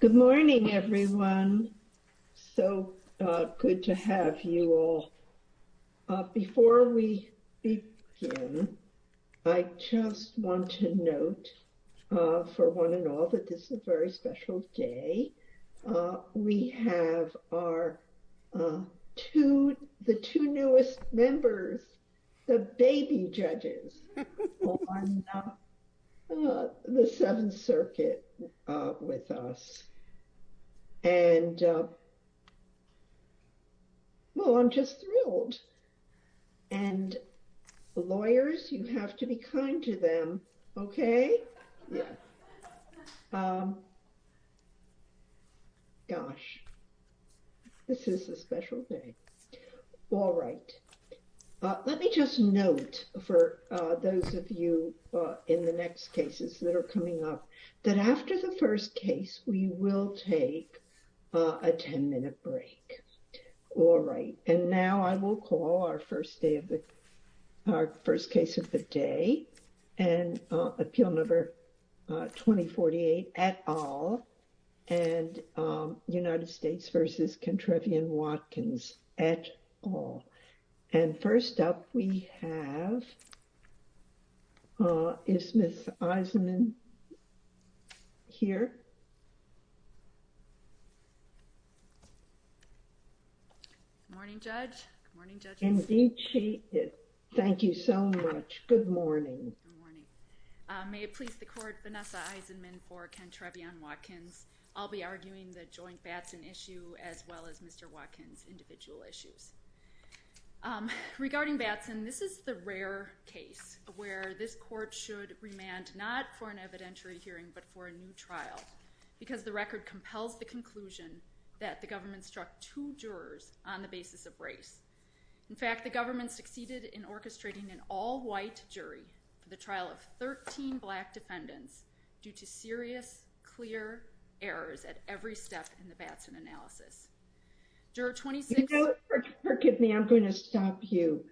Good morning everyone. So good to have you all. Before we begin, I just want to note for one and all that this is a very special day. We have our two, the two circuit with us. And well, I'm just thrilled. And lawyers, you have to be kind to them. Okay. Gosh, this is a special day. All right. Let me just note for those of you in the next cases that are coming up, that after the first case, we will take a 10 minute break. All right. And now I will call our first case of the day. And appeal number 2048 et al. And United States v. Kentrevion Watkins et al. And first up we have, is Ms. Eisenman here? Good morning, Judge. Indeed she is. Thank you so much. Good morning. May it please the court, Vanessa Eisenman for Kentrevion Watkins. I'll be arguing the joint Regarding Batson, this is the rare case where this court should remand not for an evidentiary hearing, but for a new trial. Because the record compels the conclusion that the government struck two jurors on the basis of race. In fact, the government succeeded in orchestrating an all white jury for the trial of 13 black defendants due to serious, clear errors at every step in the Batson analysis. You know, forgive me, I'm going to stop you.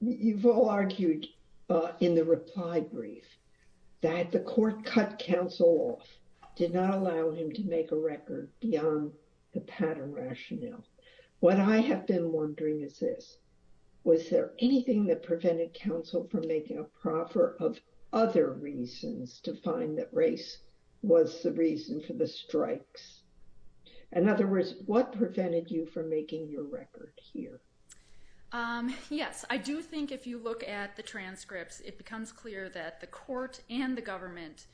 You've all argued in the reply brief that the court cut counsel off, did not allow him to make a record beyond the pattern rationale. What I have been wondering is this. Was there anything that prevented counsel from making a proffer of other reasons to find that race was the reason for the strikes? In other words, what prevented you from making your record here? Yes, I do think if you look at the transcripts, it becomes clear that the court and the government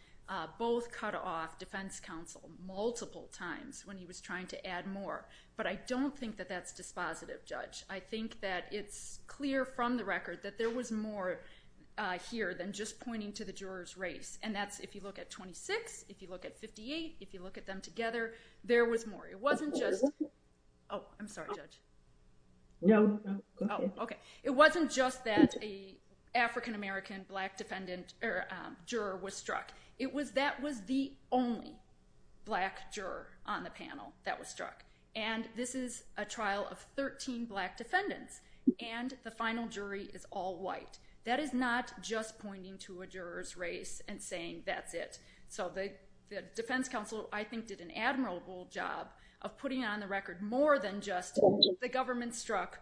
Both cut off defense counsel multiple times when he was trying to add more. But I don't think that that's dispositive, Judge. I think that it's clear from the record that there was more Here than just pointing to the jurors race. And that's if you look at 26 if you look at 58 if you look at them together. There was more. It wasn't. Oh, I'm sorry. No, okay. It wasn't just that the African American black defendant or juror was struck. It was that was the only Black juror on the panel that was struck. And this is a trial of 13 black defendants and the final jury is all white. That is not just pointing to a juror's race and saying that's it. So the Defense Council, I think, did an admirable job of putting on the record, more than just the government struck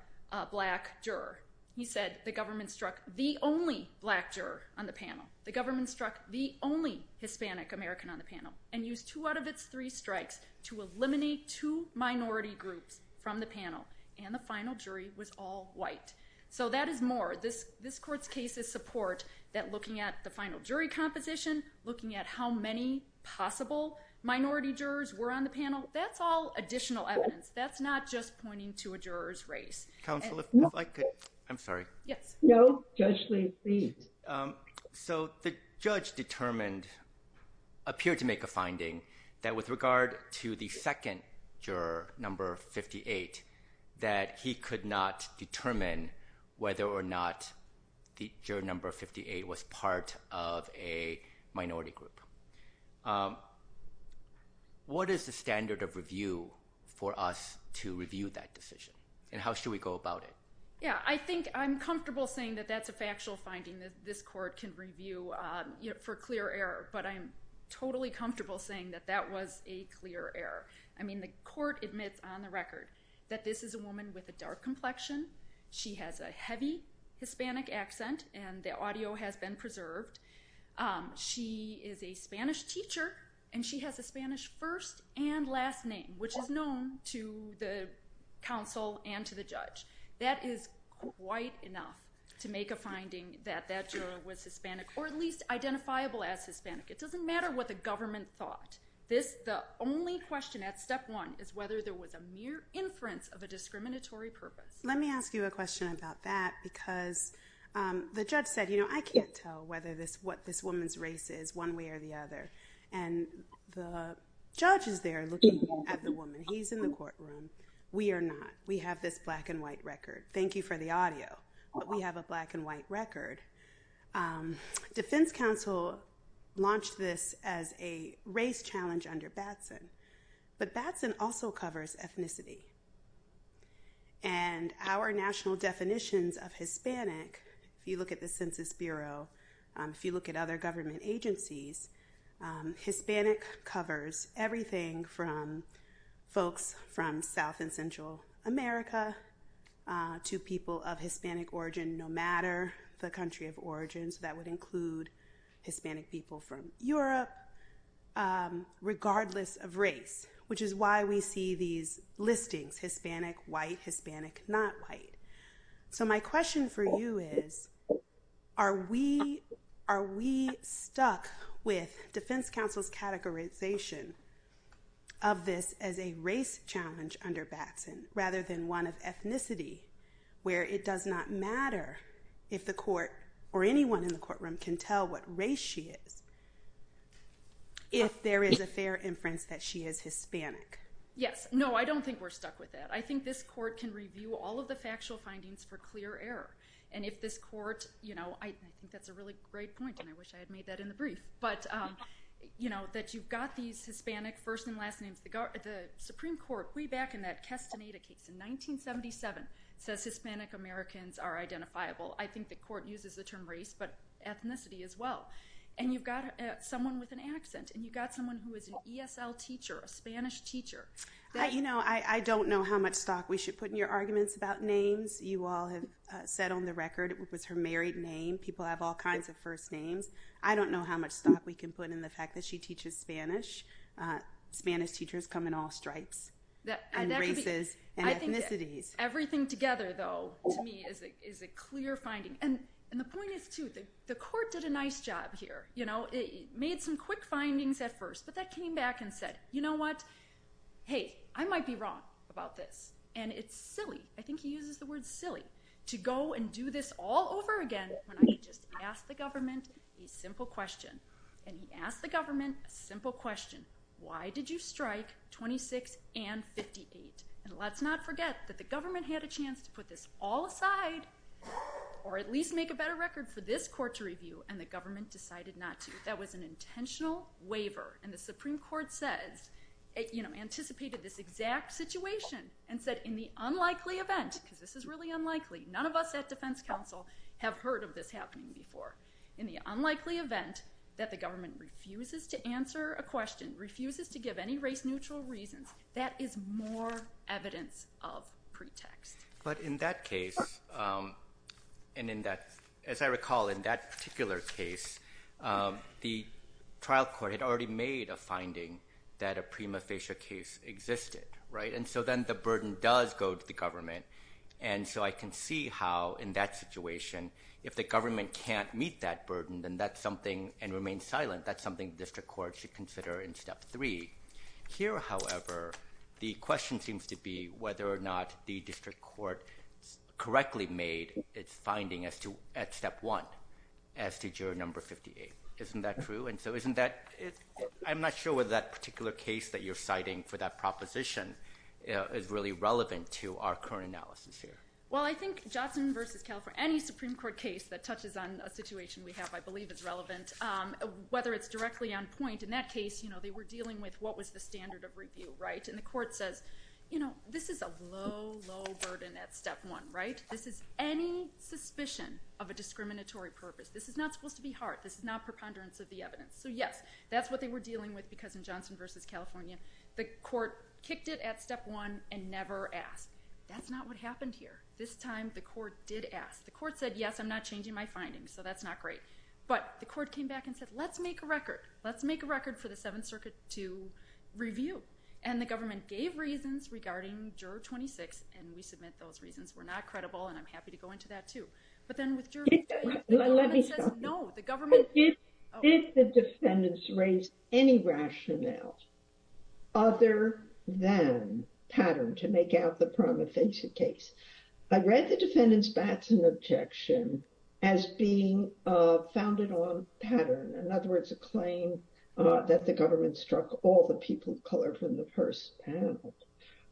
Black juror. He said the government struck the only black juror on the panel, the government struck the only Hispanic American on the panel and use two out of its three strikes to eliminate to minority group. From the panel and the final jury was all white. So that is more this this court's cases support that looking at the final jury competition, looking at how many possible minority jurors were on the panel. That's all additional evidence. That's not just pointing to a juror's race. I'm sorry. Yes, no. Actually, so the judge determined appeared to make a finding that with regard to the second juror number 58 that he could not determine whether or not the number 58 was part of a minority group. What is the standard of review for us to review that decision? And how should we go about it? Yeah, I think I'm comfortable saying that that's a factual finding that this court can review for clear error, but I'm totally comfortable saying that that was a clear error. I mean, the court admits on the record that this is a woman with a dark complexion. She has a heavy Hispanic accent and the audio has been preserved. She is a Spanish teacher and she has a Spanish first and last name, which is known to the council and to the judge. That is quite enough to make a finding that that was Hispanic or at least identifiable as Hispanic. It doesn't matter what the government thought. This the only question at step one is whether there was a mere inference of a discriminatory purpose. Let me ask you a question about that, because the judge said, you know, I can't tell whether this what this woman's race is one way or the other. And the judges, they're looking at the woman. He's in the courtroom. We are not. We have this black and white record. Thank you for the audio. We have a black and white record. Um, defense counsel launched this as a race challenge under Batson, but Batson also covers ethnicity. And our national definitions of Hispanic, if you look at the Census Bureau, if you look at other government agencies, Hispanics covers everything from folks from South and Central America. Uh, to people of Hispanic origin, no matter the country of origins that would include Hispanic people from Europe, regardless of race, which is why we see these listings Hispanic, white, Hispanic, not white. So, my question for you is, are we are we stuck with defense counsel's categorization? Of this as a race challenge under Batson rather than one of ethnicity, where it does not matter if the court or anyone in the courtroom can tell what race she is, if there is a fair inference that she is Hispanic. Yes, no, I don't think we're stuck with that. I think this court can review all of the factual findings for clear error. And if this court, you know, I think that's a really great point. And I wish I had made that in the brief, but, um, you know, that you've got these. Hispanic first and last name, the Supreme Court re-back in that Castaneda case in 1977, says Hispanic Americans are identifiable. I think the court uses the term race, but ethnicity as well. And you've got someone with an accent and you've got someone who is an ESL teacher, a Spanish teacher. You know, I don't know how much thought we should put in your arguments about names. You all have said on the record, it was her married name. People have all kinds of first names. I don't know how much thought we can put in the fact that she teaches Spanish. Spanish teachers come in all stripes and races and ethnicities. Everything together, though, is a clear finding. And the point is, too, the court did a nice job here. You know, it made some quick findings at first, but that came back and said, you know what? Hey, I might be wrong about this. And it's silly. I think he uses the word silly to go and do this all over again. He just asked the government a simple question. And he asked the government a simple question. Why did you strike 26th and 58th? And let's not forget that the government had a chance to put this all aside, or at least make a better record for this court to review, and the government decided not to. That was an intentional waiver, and the Supreme Court said, you know, anticipated this exact situation and said, in the unlikely event, because this is really unlikely, none of us at defense counsel have heard of this happening before. In the unlikely event that the government refuses to answer a question, refuses to give any race neutral reasons, that is more evidence of pretext. But in that case, and in that, as I recall, in that particular case, the trial court had already made a finding that a prima facie case existed, right? And so then the burden does go to the government. And so I can see how, in that situation, if the government can't meet that burden, then that's something and remain silent. That's something district court should consider in step 3. Here, however, the question seems to be whether or not the district court correctly made its finding as to at step 1, as to juror number 58. Isn't that true? And so isn't that, I'm not sure whether that particular case that you're citing for that proposition is really relevant to our current analysis here. Well, I think Johnson versus California, any Supreme Court case that touches on a situation we have, I believe is relevant, whether it's directly on point in that case, you know, they were dealing with what was the standard of review, right? And the court says, you know, this is a low, low burden at step 1, right? This is any suspicion of a discriminatory purpose. This is not supposed to be hard. This is not preponderance of the evidence. So, yes, that's what they were dealing with. Because in Johnson versus California, the court kicked it at step 1 and never asked. That's not what happened here. This time the court did ask the court said, yes, I'm not changing my findings. So that's not great. But the court came back and said, let's make a record. Let's make a record for the 7th circuit to review and the government gave reasons regarding juror 26 and we submit those reasons. We're not credible and I'm happy to go into that too. But then let me know the government. If the defendants raise any rationale. Other than pattern to make out the prime offensive case, I read the defendants bats and objection as being founded on pattern. In other words, a claim that the government struck all the people color from the 1st panel.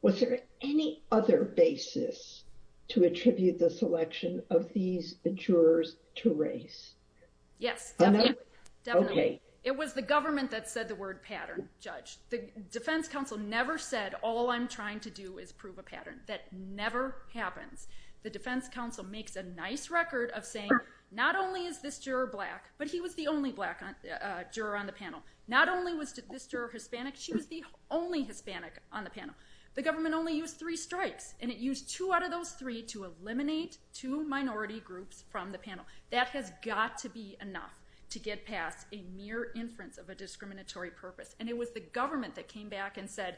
Was there any other basis to attribute the selection of these jurors to race? Yes, okay. It was the government that said the word pattern judge, the defense council never said all I'm trying to do is prove a pattern that never happened. The defense council makes a nice record of saying, not only is this your black, but he was the only black on the on the panel. Not only was to disturb Hispanic. She was the only Hispanic on the panel. The government only use 3 strikes and it used 2 out of those 3 to eliminate 2 minority groups from the panel. That has got to be enough to get past a near inference of a discriminatory purpose. And it was the government that came back and said,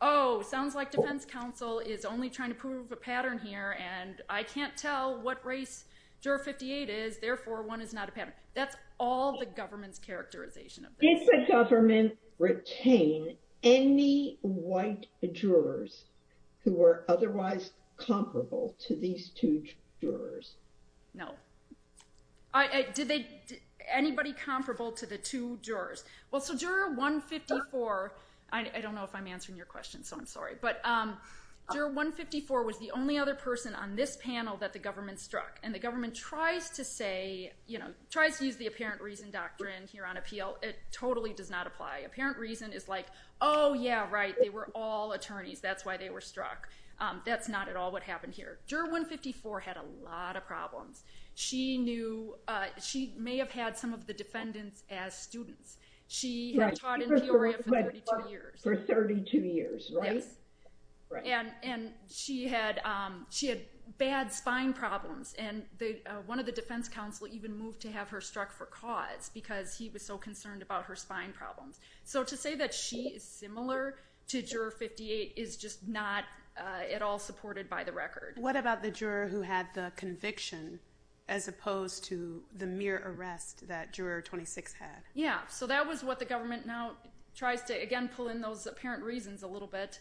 oh, sounds like defense council is only trying to prove a pattern here. And I can't tell what race 58 is. Therefore, 1 is not a panic. That's all the government characterization of the government. Retain any white jurors who are otherwise comparable to these 2 jurors. No, I did they anybody comparable to the 2 jurors? Well, so you're a 154. I don't know if I'm answering your question. So I'm sorry, but you're 154 was the only other person on this panel that the government struck and the government tries to say, you know, tries to use the apparent reason doctrine here on appeal. It totally does not apply apparent reason. It's like, oh, yeah, right. They were all attorneys. That's why they were struck. That's not at all. What happened here? You're 154 had a lot of problems. She knew she may have had some of the defendants as students. She taught for 32 years, right? And and she had she had bad spine problems and one of the defense counsel even moved to have her struck for cause because he was so concerned about her spine problem. So to say that she is similar to juror 58 is just not at all supported by the record. What about the juror who had the conviction as opposed to the mere arrest that juror? Yeah, so that was what the government now tries to again, pull in those apparent reasons a little bit,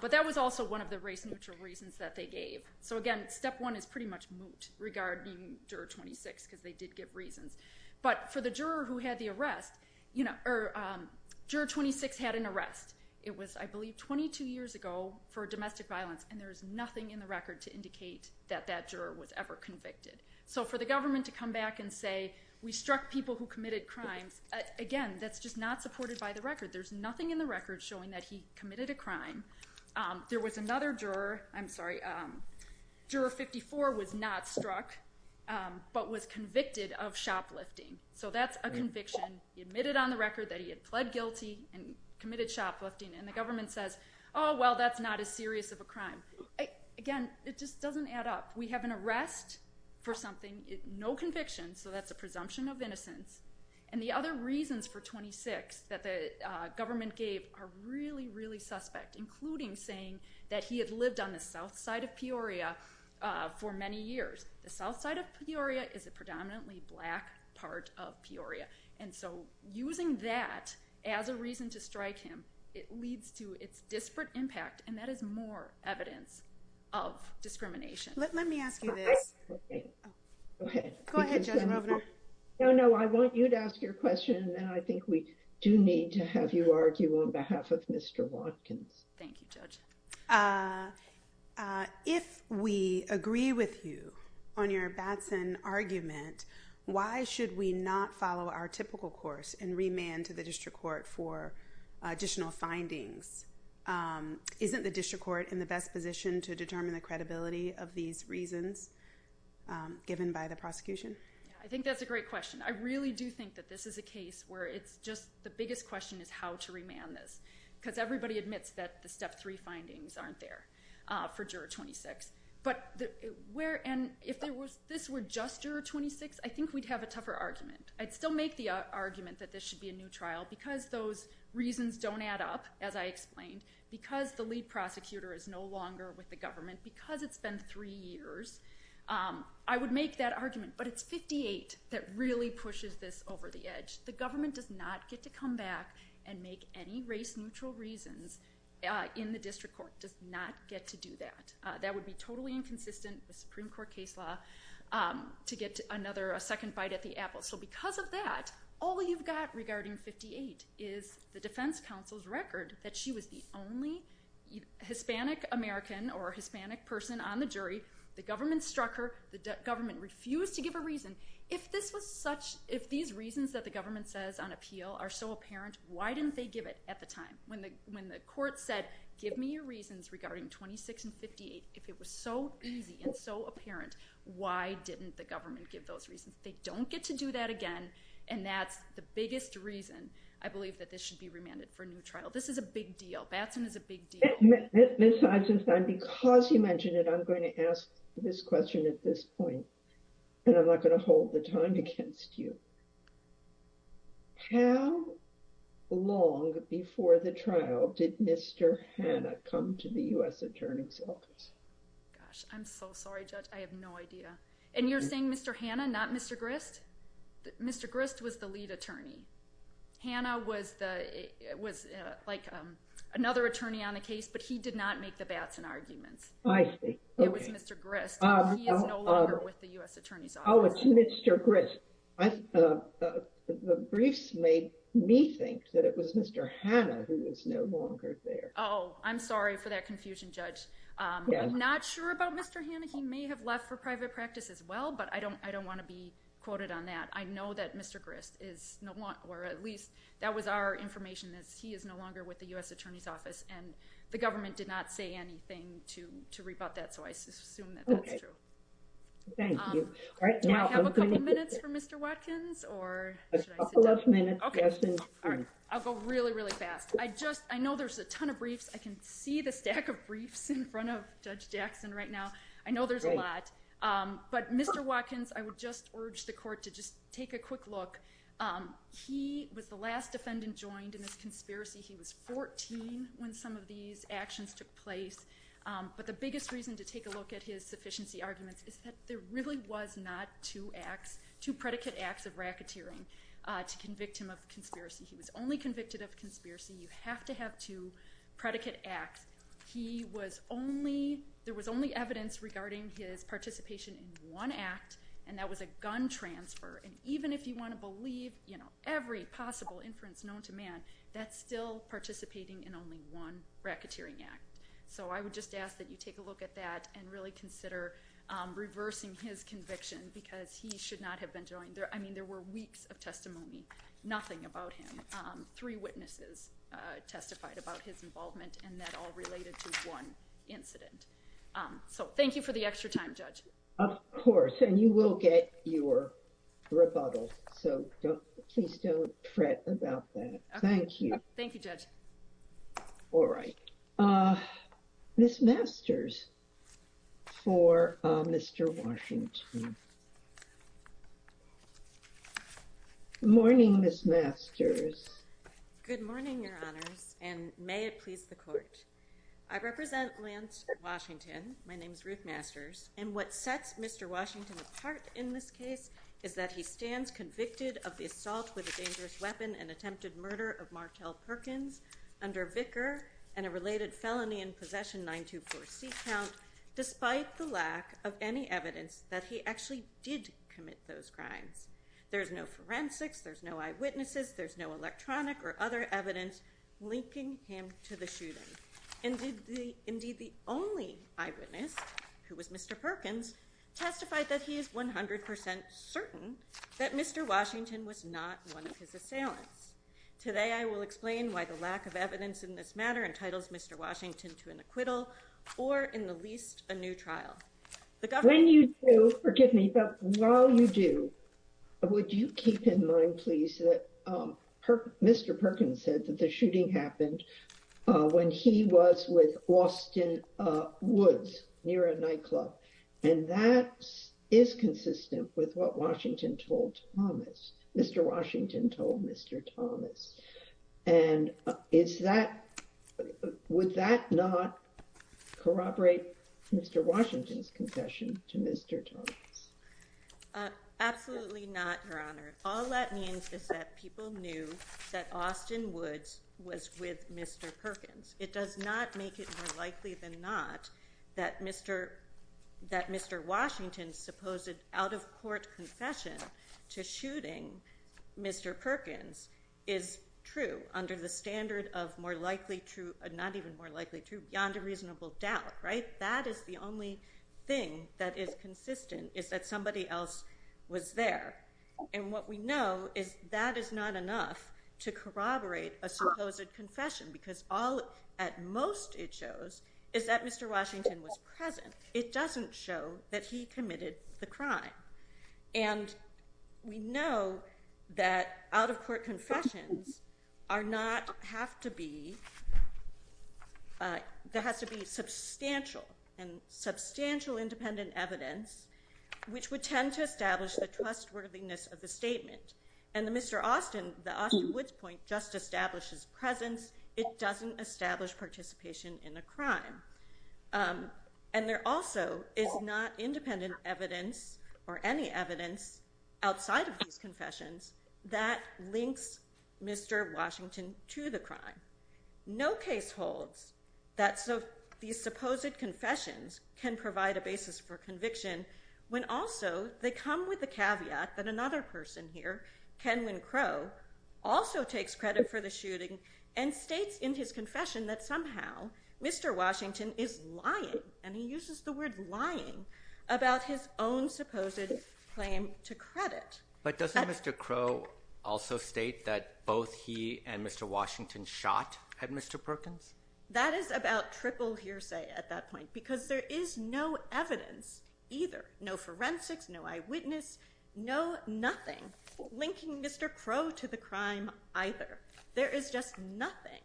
but that was also one of the reasons that they gave. So, again, step one is pretty much moot regarding juror 26 because they did give reasons, but for the juror who had the arrest, you know, or juror 26 had an arrest. It was, I believe, 22 years ago for domestic violence, and there's nothing in the record to indicate that that juror was ever convicted. So for the government to come back and say, we struck people who committed crimes again, that's just not supported by the record. There's nothing in the record showing that he committed a crime. There was another juror. I'm sorry. Juror 54 was not struck, but was convicted of shoplifting. So that's a conviction. He admitted on the record that he had pled guilty and committed shoplifting, and the government says, oh, well, that's not as serious of a crime. Again, it just doesn't add up. We have an arrest for something, no conviction. So that's a presumption of innocence. And the other reasons for 26 that the government gave are really, really suspect, including saying that he had lived on the South side of Peoria for many years. The South side of Peoria is a predominantly black part of Peoria. And so using that as a reason to strike him, it leads to its disparate impact and that is more evidence of discrimination. Let me ask you this. Okay, go ahead. No, no, I want you to ask your question and I think we do need to have you argue on behalf of Mr. Watkins. Thank you judge. If we agree with you on your argument, why should we not follow our typical course and remand to the district court for additional findings? Isn't the district court in the best position to determine the credibility of these reasons given by the prosecution? I think that's a great question. I really do think that this is a case where it's just the biggest question is how to remand this because everybody admits that the step three findings aren't there for juror 26, but where? And if this were just juror 26, I think we'd have a tougher argument. I'd still make the argument that this should be a new trial because those reasons don't add up, as I explained, because the lead prosecutor is no longer with the government, because it's been three years. I would make that argument, but it's 58 that really pushes this over the edge. The government does not get to come back and make any race neutral reasons in the district court does not get to do that. That would be totally inconsistent with Supreme Court case law to get another second fight at the apple. So because of that, all you've got regarding 58 is the defense counsel's record that she was the only Hispanic American or Hispanic person on the jury. The government struck her. The government refused to give a reason. If this was such, if these reasons that the government says on appeal are so apparent, why didn't they give it at the time when the court said, give me your reasons regarding 26 and 58? If it was so easy and so apparent, why didn't the government give those reasons? They don't get to do that again. And that's the biggest reason. I believe that this should be remanded for a new trial. This is a big deal. That's a big deal. This time, because you mentioned it, I'm going to ask this question at this point, and I'm not going to hold the time against you. How long before the trial did Mr. Hanna come to the U.S. Attorney's office? Gosh, I'm so sorry, Judge. I have no idea. And you're saying Mr. Hanna, not Mr. Grist? Mr. Grist was the lead attorney. Hanna was another attorney on the case, but he did not make the Batson argument. I see. Okay. It was Mr. Grist. He is no longer with the U.S. Attorney's office. Oh, it's Mr. Grist. The briefs made me think that it was Mr. Hanna who is no longer there. Oh, I'm sorry for that confusion, Judge. I'm not sure about Mr. Hanna. He may have left for private practice as well, but I don't want to be quoted on that. I know that Mr. Grist is no longer, or at least that was our information, that he is no longer with the U.S. Attorney's office. And the government did not say anything to rebut that, so I assume that's not true. Thank you. Do I have a couple minutes for Mr. Watkins? A couple of minutes. Okay. I'll go really, really fast. I know there's a ton of briefs. I can see the stack of briefs in front of Judge Jackson right now. I know there's a lot. But Mr. Watkins, I would just urge the court to just take a quick look. He was the last defendant joined in this conspiracy. He was 14 when some of these actions took place. But the biggest reason to take a look at his sufficiency arguments is that there really was not two predicate acts of racketeering to convict him of conspiracy. He was only convicted of conspiracy. You have to have two predicate acts. He was only, there was only evidence regarding his participation in one act, and that was a gun transfer. And even if you want to believe every possible inference known to man, that's still participating in only one racketeering act. So I would just ask that you take a look at that and really consider reversing his conviction, because he should not have been joined. I mean, there were weeks of testimony, nothing about him. Three witnesses testified about his involvement in that all related to one incident. So thank you for the extra time, Judge. Of course, and you will get your rebuttal. So please don't fret about that. Thank you. Thank you, Judge. All right. Ms. Masters for Mr. Washington. Morning, Ms. Masters. Good morning, Your Honor, and may it please the Court. I represent Lance Washington. My name is Ruth Masters. And what sets Mr. Washington apart in this case is that he stands convicted of the assault with a dangerous weapon and attempted murder of Martel Perkins under a vicar and a related felony in possession 924C count, despite the lack of any evidence that he actually did commit those crimes. There's no forensics, there's no eyewitnesses, there's no electronic or other evidence linking him to the shooting. Indeed, the only eyewitness, who was Mr. Perkins, testified that he is 100% certain that Mr. Washington was not one of his assailants. Today I will explain why the lack of evidence in this matter entitles Mr. Washington to an acquittal or in the least a new trial. When you do, while you do, would you keep in mind, please, that Mr. Perkins said that the shooting happened when he was with Austin Woods near a nightclub. And that is consistent with what Washington told Thomas, Mr. Washington told Mr. Thomas. And is that, would that not corroborate Mr. Washington's confession to Mr. Thomas? Absolutely not, Your Honor. All that means is that people knew that Austin Woods was with Mr. Perkins. It does not make it more likely than not that Mr. Washington's supposed out-of-court confession to shooting Mr. Perkins is true under the standard of more likely true, not even more likely true, beyond a reasonable doubt. That is the only thing that is consistent, is that somebody else was there. And what we know is that is not enough to corroborate a supposed confession because all, at most it shows, is that Mr. Washington was present. It doesn't show that he committed the crime. And we know that out-of-court confessions are not, have to be, there has to be substantial and substantial independent evidence which would tend to establish the trustworthiness of the statement. And the Mr. Austin, the Austin Woods point, just establishes presence. It doesn't establish participation in the crime. And there also is not independent evidence or any evidence outside of these confessions that links Mr. Washington to the crime. No case holds that these supposed confessions can provide a basis for conviction when also they come with the caveat that another person here, Kenwin Crowe, also takes credit for the shooting and states in his confession that somehow Mr. Washington is lying, and he uses the word lying, about his own supposed claim to credit. But does Mr. Crowe also state that both he and Mr. Washington shot at Mr. Perkins? That is about triple hearsay at that point because there is no evidence either, no forensics, no eyewitness, no nothing linking Mr. Crowe to the crime either. There is just nothing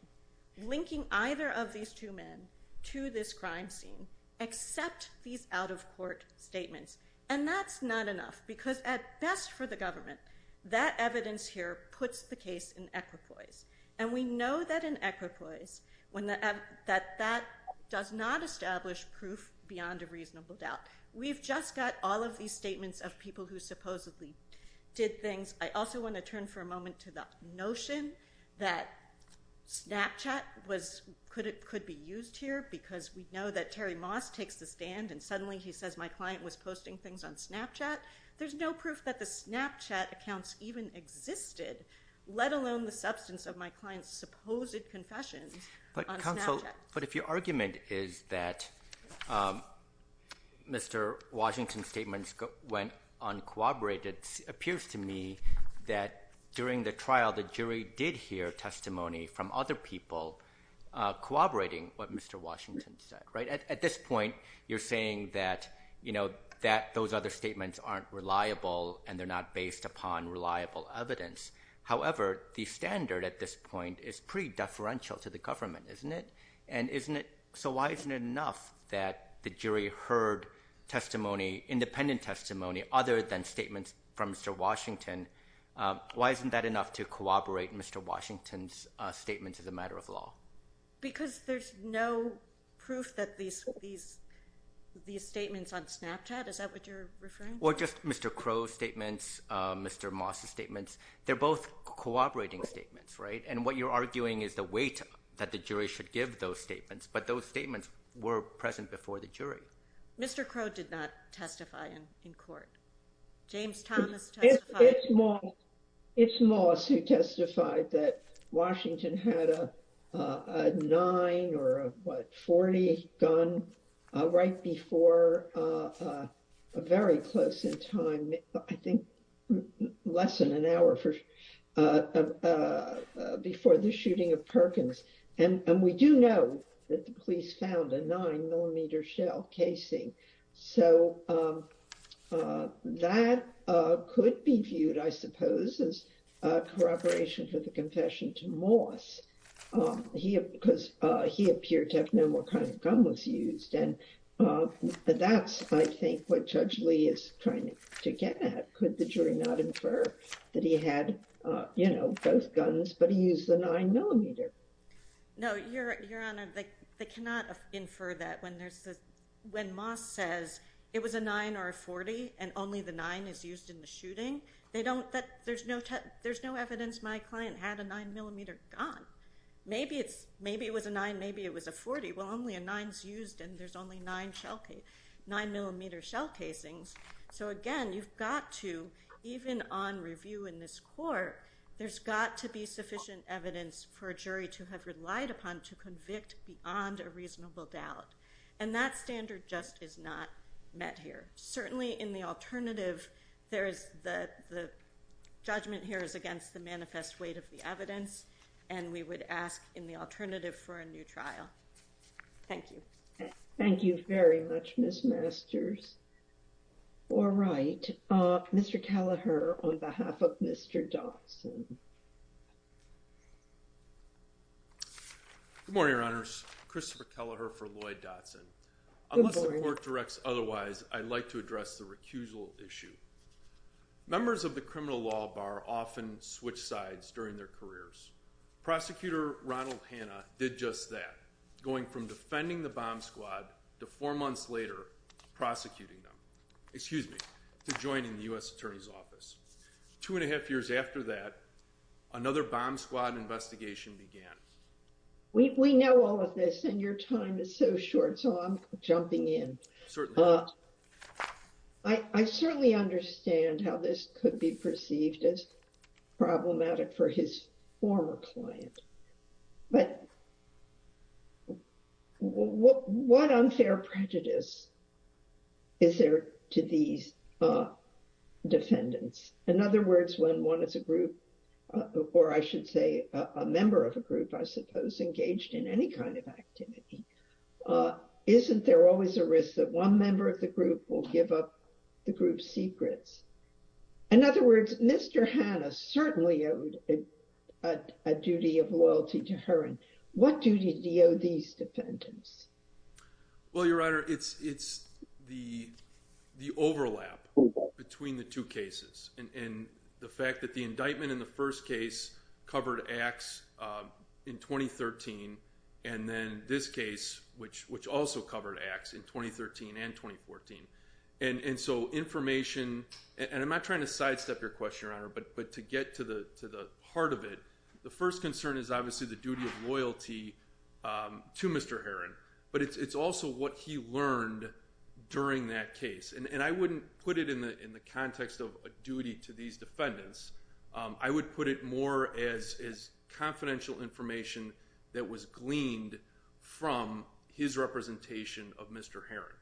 linking either of these two men to this crime scene except these out-of-court statements. And that's not enough because at best for the government, that evidence here puts the case in equipoise. And we know that in equipoise that that does not establish proof beyond a reasonable doubt. We've just got all of these statements of people who supposedly did things. I also want to turn for a moment to the notion that Snapchat could be used here because we know that Terry Moss takes the stand, and suddenly he says my client was posting things on Snapchat. There's no proof that the Snapchat accounts even existed, let alone the substance of my client's supposed confession on Snapchat. But if your argument is that Mr. Washington's statements went uncooperative, it appears to me that during the trial the jury did hear testimony from other people cooperating with what Mr. Washington said. At this point, you're saying that those other statements aren't reliable, and they're not based upon reliable evidence. However, the standard at this point is pretty deferential to the government, isn't it? So why isn't it enough that the jury heard testimony, independent testimony, other than statements from Mr. Washington? Why isn't that enough to corroborate Mr. Washington's statements as a matter of law? Because there's no proof that these statements on Snapchat? Is that what you're referring to? Well, just Mr. Crowe's statements, Mr. Moss's statements, they're both cooperating statements, right? And what you're arguing is the weight that the jury should give those statements, but those statements were present before the jury. Mr. Crowe did not testify in court. James Thomas testified. It's Moss who testified that Washington had a 9 or a 40 gun right before a very close in time, I think less than an hour before the shooting of Perkins. And we do know that the police found a 9mm shell casing, so that could be viewed, I suppose, as corroboration to the confession to Moss. He appeared to have no more kind of gun was used, and that's, I think, what Judge Lee is trying to get at. That he had both guns, but he used the 9mm. No, Your Honor, they cannot infer that. When Moss says it was a 9 or a 40 and only the 9 is used in the shooting, there's no evidence my client had a 9mm gun. Maybe it was a 9, maybe it was a 40. Well, only a 9 is used and there's only 9mm shell casings. So again, you've got to, even on review in this court, there's got to be sufficient evidence for a jury to have relied upon to convict beyond a reasonable doubt. And that standard just is not met here. Certainly in the alternative, the judgment here is against the manifest weight of the evidence, and we would ask in the alternative for a new trial. Thank you. Thank you very much, Miss Masters. All right, Mr. Telleher, on behalf of Mr. Dodson. Good morning, Your Honors. Christopher Telleher for Lloyd Dodson. Unless the court directs otherwise, I'd like to address the recusal issue. Members of the criminal law bar often switch sides during their careers. Prosecutor Ronald Hanna did just that, going from defending the bomb squad to four months later, prosecuting them. Excuse me, to joining the U.S. Attorney's Office. Two and a half years after that, another bomb squad investigation began. We know all of this and your time is so short, so I'm jumping in. I certainly understand how this could be perceived as problematic for his former clients. But what unfair prejudice is there to these defendants? In other words, when one is a group, or I should say a member of a group, I suppose, engaged in any kind of activity, isn't there always a risk that one member of the group will give up the group's secrets? In other words, Mr. Hanna certainly owed a duty of loyalty to her. And what duty do these defendants? Well, Your Honor, it's the overlap between the two cases. And the fact that the indictment in the first case covered acts in 2013, and then this case, which also covered acts in 2013 and 2014. And so information, and I'm not trying to sidestep your question, Your Honor, but to get to the heart of it, the first concern is obviously the duty of loyalty to Mr. Herron. But it's also what he learned during that case. And I wouldn't put it in the context of a duty to these defendants. I would put it more as confidential information that was gleaned from his representation of Mr. Herron.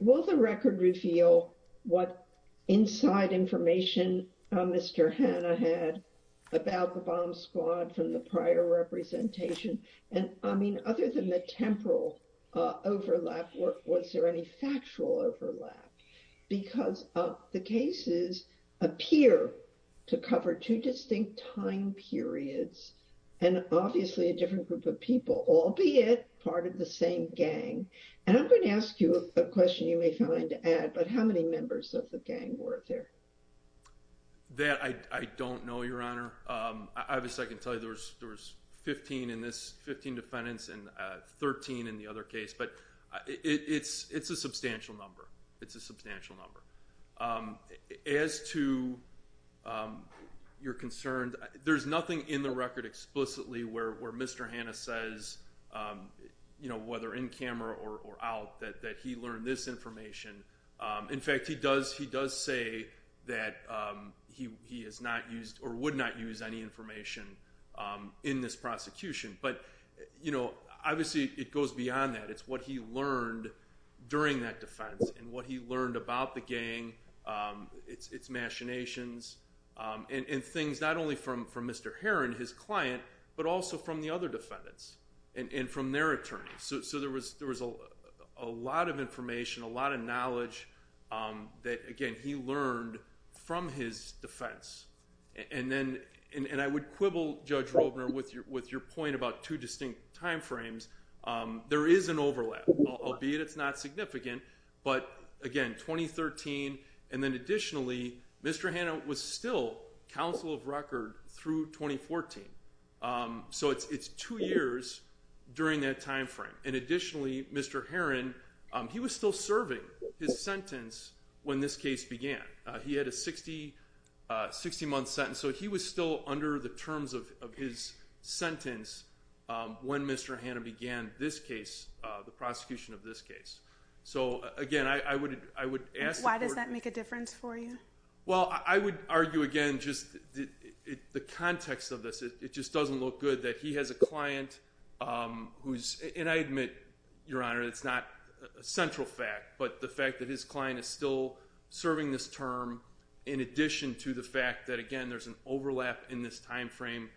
Will the record reveal what inside information Mr. Hanna had about the bomb squad from the prior representation? And I mean, other than the temporal overlap, was there any factual overlap? Because the cases appear to cover two distinct time periods, and obviously a different group of people, albeit part of the same gang. And I'm going to ask you a question you may find to add, but how many members of the gang were there? That I don't know, Your Honor. Obviously, I can tell you there was 15 in this, 15 defendants, and 13 in the other case. But it's a substantial number. It's a substantial number. As to your concern, there's nothing in the record explicitly where Mr. Hanna says, whether in camera or out, that he learned this information. In fact, he does say that he has not used or would not use any information in this prosecution. But, you know, obviously it goes beyond that. It's what he learned during that defense and what he learned about the gang, its machinations, and things not only from Mr. Herron, his client, but also from the other defendants and from their attorneys. So there was a lot of information, a lot of knowledge that, again, he learned from his defense. And I would quibble, Judge Woldner, with your point about two distinct time frames. There is an overlap, albeit it's not significant. But, again, 2013, and then additionally, Mr. Hanna was still counsel of record through 2014. So it's two years during that time frame. And additionally, Mr. Herron, he was still serving his sentence when this case began. He had a 60-month sentence. So he was still under the terms of his sentence when Mr. Hanna began this case, the prosecution of this case. So, again, I would ask the court— Why does that make a difference for you? Well, I would argue, again, just the context of this. It just doesn't look good that he has a client who's—and I admit, Your Honor, it's not a central fact. But the fact that his client is still serving this term in addition to the fact that, again, there's an overlap in this time frame,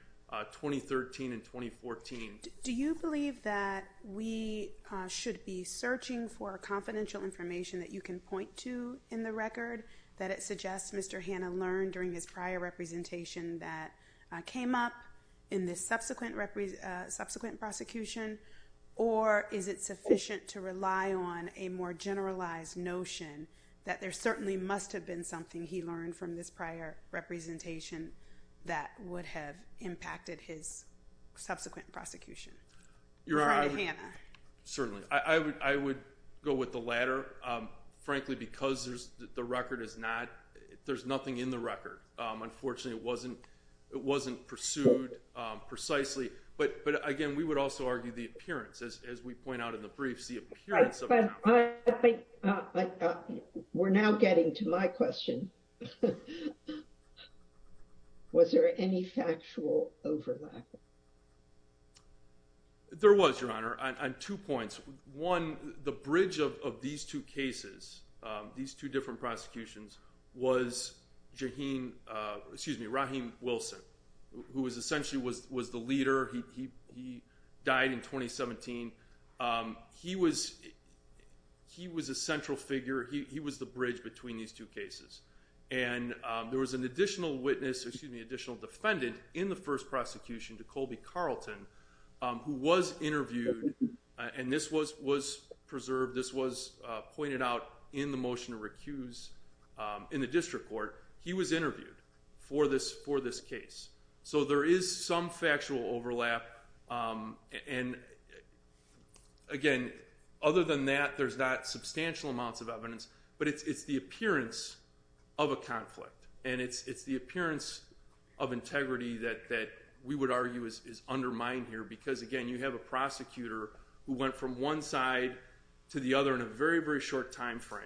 2013 and 2014. Do you believe that we should be searching for confidential information that you can point to in the record, that it suggests Mr. Hanna learned during his prior representation that came up in this subsequent prosecution? Or is it sufficient to rely on a more generalized notion that there certainly must have been something he learned from this prior representation that would have impacted his subsequent prosecution? Your Honor, certainly. I would go with the latter, frankly, because the record is not—there's nothing in the record. Unfortunately, it wasn't pursued precisely. But, again, we would also argue the appearance, as we point out in the briefs, the appearance of— We're now getting to my question. Was there any factual overlap? There was, Your Honor, on two points. One, the bridge of these two cases, these two different prosecutions, was Raheem Wilson, who essentially was the leader. He died in 2017. He was a central figure. He was the bridge between these two cases. And there was an additional witness—excuse me, an additional defendant in the first prosecution, Nicole B. Carlton, who was interviewed, and this was preserved, this was pointed out in the motion recused in the district court. He was interviewed for this case. So there is some factual overlap. And, again, other than that, there's not substantial amounts of evidence, but it's the appearance of a conflict. And it's the appearance of integrity that we would argue is undermined here because, again, you have a prosecutor who went from one side to the other in a very, very short time frame.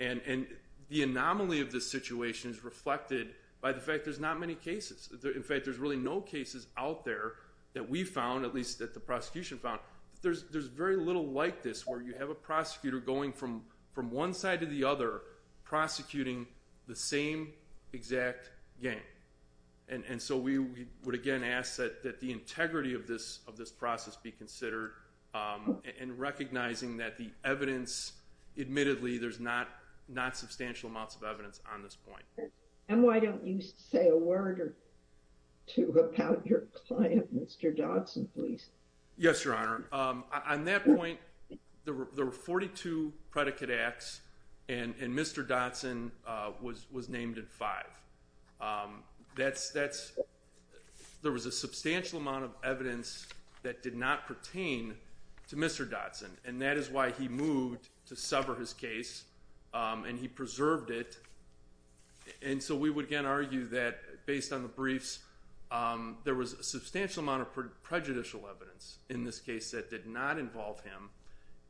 And the anomaly of this situation is reflected by the fact there's not many cases. In fact, there's really no cases out there that we found, at least that the prosecution found. There's very little like this where you have a prosecutor going from one side to the other prosecuting the same exact gang. And so we would, again, ask that the integrity of this process be considered in recognizing that the evidence, admittedly, there's not substantial amounts of evidence on this point. And why don't you say a word or two about your client, Mr. Dodson, please? Yes, Your Honor. On that point, there were 42 predicate acts, and Mr. Dodson was named in five. There was a substantial amount of evidence that did not pertain to Mr. Dodson, and that is why he moved to sever his case and he preserved it. And so we would, again, argue that, based on the briefs, there was a substantial amount of prejudicial evidence in this case that did not involve him,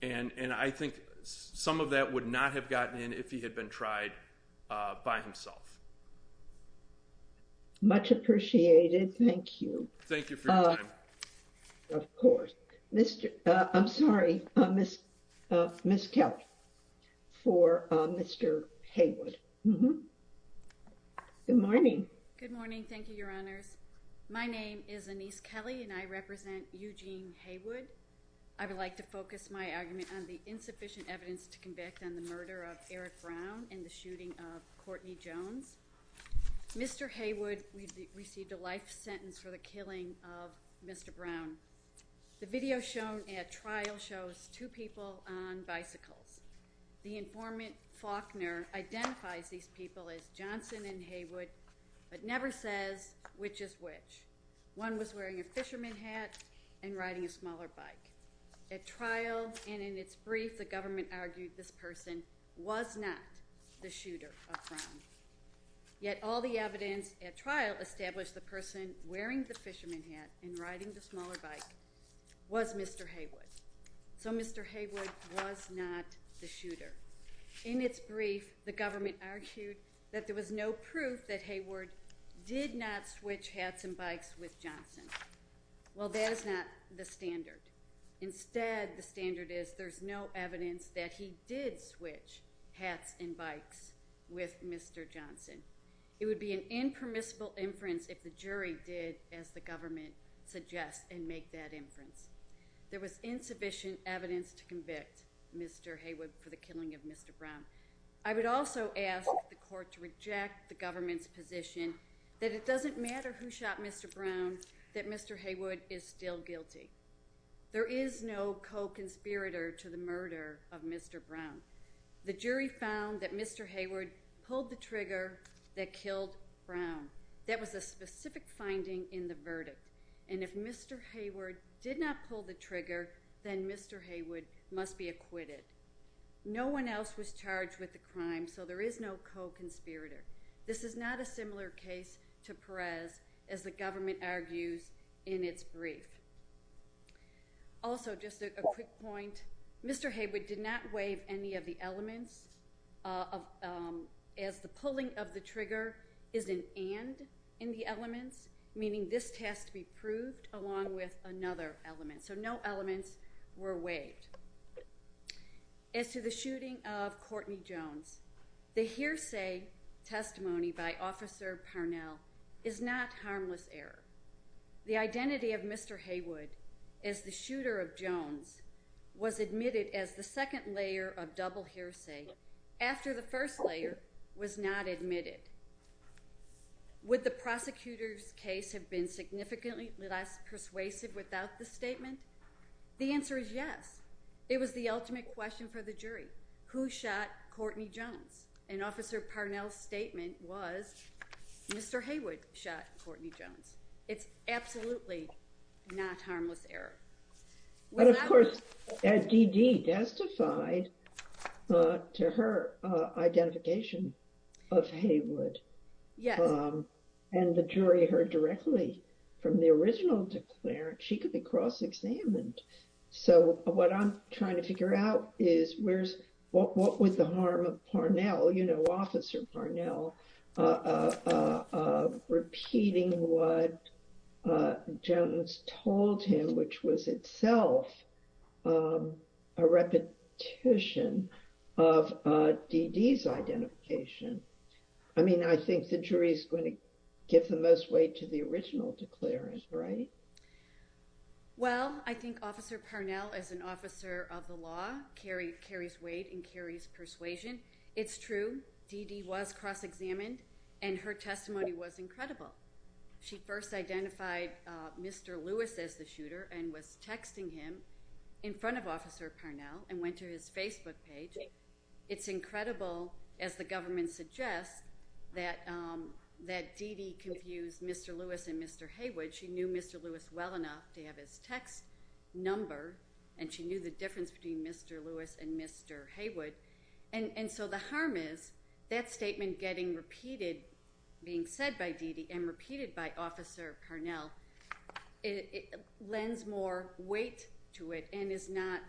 and I think some of that would not have gotten in if he had been tried by himself. Much appreciated. Thank you. Thank you for your time. Of course. I'm sorry, Ms. Kelly, for Mr. Haywood. Good morning. Good morning. Thank you, Your Honor. My name is Anise Kelly, and I represent Eugene Haywood. I would like to focus my argument on the insufficient evidence to convict on the murder of Eric Brown and the shooting of Courtney Jones. Mr. Haywood received a life sentence for the killing of Mr. Brown. The video shown at trial shows two people on bicycles. The informant, Faulkner, identifies these people as Johnson and Haywood, but never says which is which. One was wearing a fisherman hat and riding a smaller bike. At trial and in its brief, the government argued this person was not the shooter of Brown. Yet all the evidence at trial established the person wearing the fisherman hat and riding the smaller bike was Mr. Haywood. So Mr. Haywood was not the shooter. In its brief, the government argued that there was no proof that Haywood did not switch hats and bikes with Johnson. Well, that is not the standard. Instead, the standard is there is no evidence that he did switch hats and bikes with Mr. Johnson. It would be an impermissible inference if the jury did, as the government suggests, and make that inference. There was insufficient evidence to convict Mr. Haywood for the killing of Mr. Brown. I would also ask the court to reject the government's position that it doesn't matter who shot Mr. Brown, that Mr. Haywood is still guilty. There is no co-conspirator to the murder of Mr. Brown. The jury found that Mr. Haywood pulled the trigger that killed Brown. That was a specific finding in the verdict. And if Mr. Haywood did not pull the trigger, then Mr. Haywood must be acquitted. No one else was charged with the crime, so there is no co-conspirator. This is not a similar case to Perez, as the government argues in its brief. Also, just a quick point, Mr. Haywood did not waive any of the elements. If the pulling of the trigger is an and in the elements, meaning this has to be proved along with another element. So no elements were waived. As to the shooting of Courtney Jones, the hearsay testimony by Officer Parnell is not harmless error. The identity of Mr. Haywood as the shooter of Jones was admitted as the second layer of double hearsay, after the first layer was not admitted. Would the prosecutor's case have been significantly less persuasive without this statement? The answer is yes. It was the ultimate question for the jury. Who shot Courtney Jones? And Officer Parnell's statement was, Mr. Haywood shot Courtney Jones. It's absolutely not harmless error. But of course, D.D. testified to her identification of Haywood. Yes. And the jury heard directly from the original declarant. She could be cross-examined. So what I'm trying to figure out is what was the harm of Parnell, you know, Officer Parnell, repeating what Jones told him, which was itself a repetition of D.D.'s identification. I mean, I think the jury is going to give the most weight to the original declarant, right? Well, I think Officer Parnell, as an officer of the law, carries weight and carries persuasion. It's true. D.D. was cross-examined, and her testimony was incredible. She first identified Mr. Lewis as the shooter and was texting him in front of Officer Parnell and went to his Facebook page. It's incredible, as the government suggests, that D.D. confused Mr. Lewis and Mr. Haywood. She knew Mr. Lewis well enough to have his text number, and she knew the difference between Mr. Lewis and Mr. Haywood. And so the harm is that statement getting repeated, being said by D.D. and repeated by Officer Parnell, it lends more weight to it and is not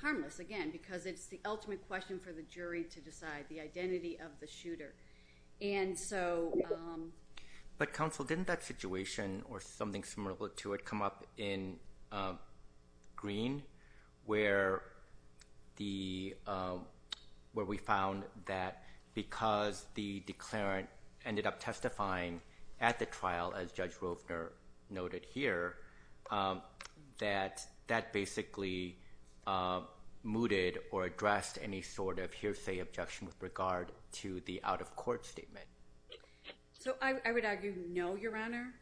harmless, again, because it's the ultimate question for the jury to decide the identity of the shooter. But, Counsel, didn't that situation, or something similar to it, come up in Green, where we found that because the declarant ended up testifying at the trial, as Judge Roper noted here, that that basically mooted or addressed any sort of hearsay objection with regard to the out-of-court statement? I would argue no, Your Honor.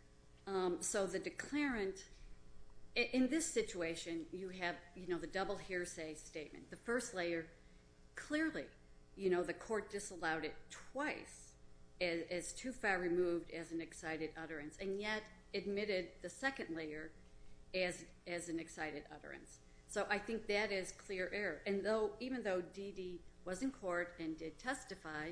So the declarant, in this situation, you have the double hearsay statement. The first layer, clearly, the court disallowed it twice, and it's too far removed as an excited utterance, and yet admitted the second layer as an excited utterance. So I think that is clear error. And even though D.D. was in court and did testify,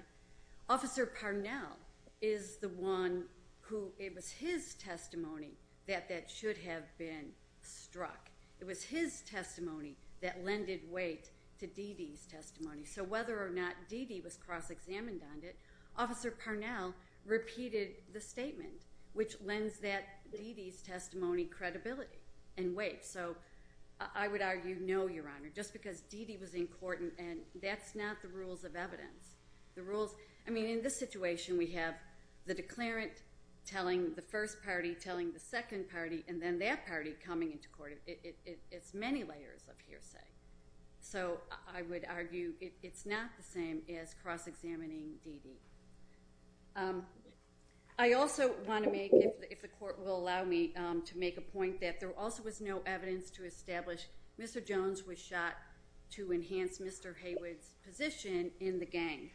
Officer Parnell is the one who, it was his testimony that that should have been struck. It was his testimony that lended weight to D.D.'s testimony. So whether or not D.D. was cross-examined on it, Officer Parnell repeated the statement, which lends that D.D.'s testimony credibility and weight. So I would argue no, Your Honor, just because D.D. was in court, and that's not the rules of evidence. I mean, in this situation, we have the declarant telling the first party, telling the second party, and then that party coming into court. It's many layers of hearsay. So I would argue it's not the same as cross-examining D.D. I also want to make, if the court will allow me, to make a point that there also was no evidence to establish Mr. Jones was shot to enhance Mr. Haywood's position in the gang.